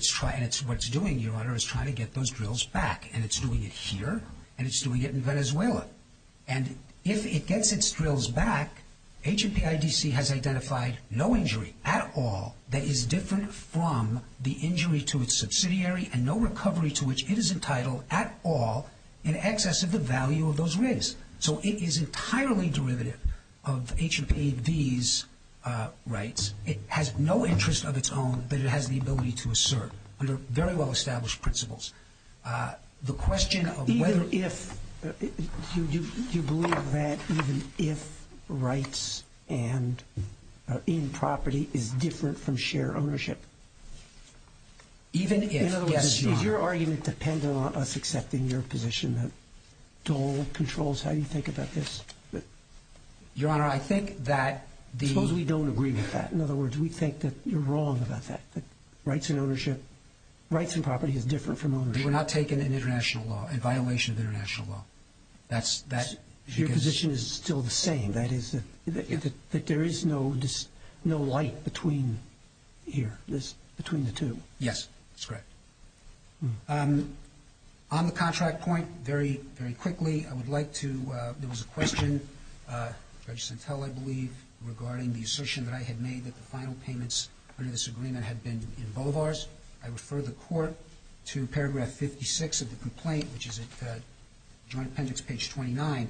what it's doing, Your Honor, is trying to get those drills back. And it's doing it here, and it's doing it in Venezuela. And if it gets its drills back, H&P IDC has identified no injury at all that is different from the injury to its subsidiary and no recovery to which it is entitled at all in excess of the value of those rigs. So it is entirely derivative of H&P IDC's rights. It has no interest of its own that it has the ability to assert under very well-established principles. The question of whether... Do you believe that even if rights in property is different from share ownership? Even if, yes, Your Honor. Is your argument dependent on us accepting your position that Dole controls? How do you think about this? Your Honor, I think that the... Suppose we don't agree with that. In other words, we think that you're wrong about that. Rights in ownership, rights in property is different from ownership. If you're not taking an international law, a violation of international law, that's... Your position is still the same, that there is no right between here, between the two. Yes, that's correct. On the contract point, very quickly, I would like to... There was a question, Judge Santella, I believe, regarding the assertion that I had made that the final payments under this agreement had been in Bovar's. I refer the court to paragraph 56 of the complaint, which is at Joint Appendix, page 29.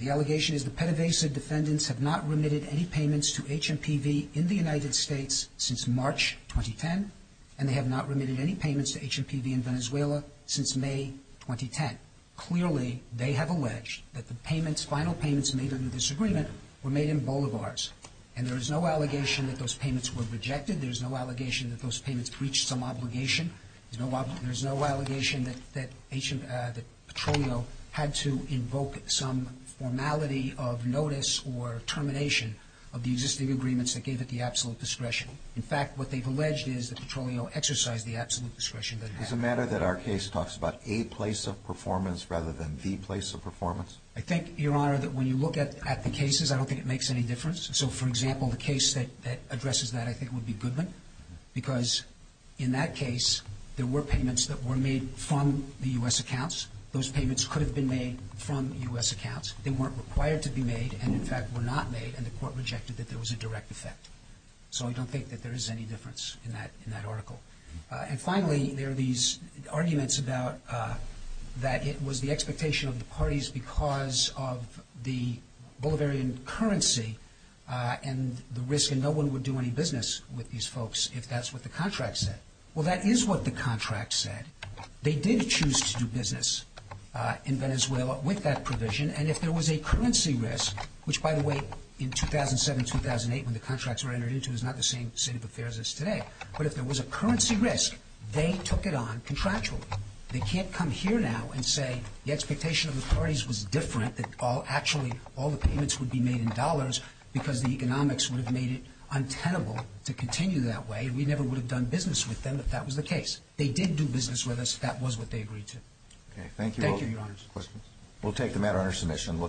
The allegation is the PEDAVASA defendants have not remitted any payments to HMPV in the United States since March 2010, and they have not remitted any payments to HMPV in Venezuela since May 2010. Clearly, they have alleged that the payments, final payments made under this agreement, were made in Bovar's. And there is no allegation that those payments were rejected. There is no allegation that those payments reached some obligation. There is no allegation that Petroleum had to invoke some formality of notice or termination of the existing agreements that gave it the absolute discretion. In fact, what they've alleged is that Petroleum exercised the absolute discretion that it had. Is it a matter that our case talks about a place of performance rather than the place of performance? I think, Your Honor, that when you look at the cases, I don't think it makes any difference. So, for example, the case that addresses that, I think, would be Goodman, because in that case, there were payments that were made from the U.S. accounts. Those payments could have been made from U.S. accounts. They weren't required to be made and, in fact, were not made, and the court rejected that there was a direct effect. So I don't think that there is any difference in that article. And finally, there are these arguments about that it was the expectation of the parties because of the Bulgarian currency and the risk, and no one would do any business with these folks if that's what the contract said. Well, that is what the contract said. They did choose to do business in Venezuela with that provision, and if there was a currency risk, which, by the way, in 2007-2008, when the contracts were entered into, it was not the same set of affairs as today, but if there was a currency risk, they took it on contractually. They can't come here now and say the expectation of the parties was different, that actually all the payments would be made in dollars because the economics would have made it untenable to continue that way. We never would have done business with them if that was the case. They did do business with us. That was what they agreed to. Thank you, Your Honor. We'll take the matter under submission.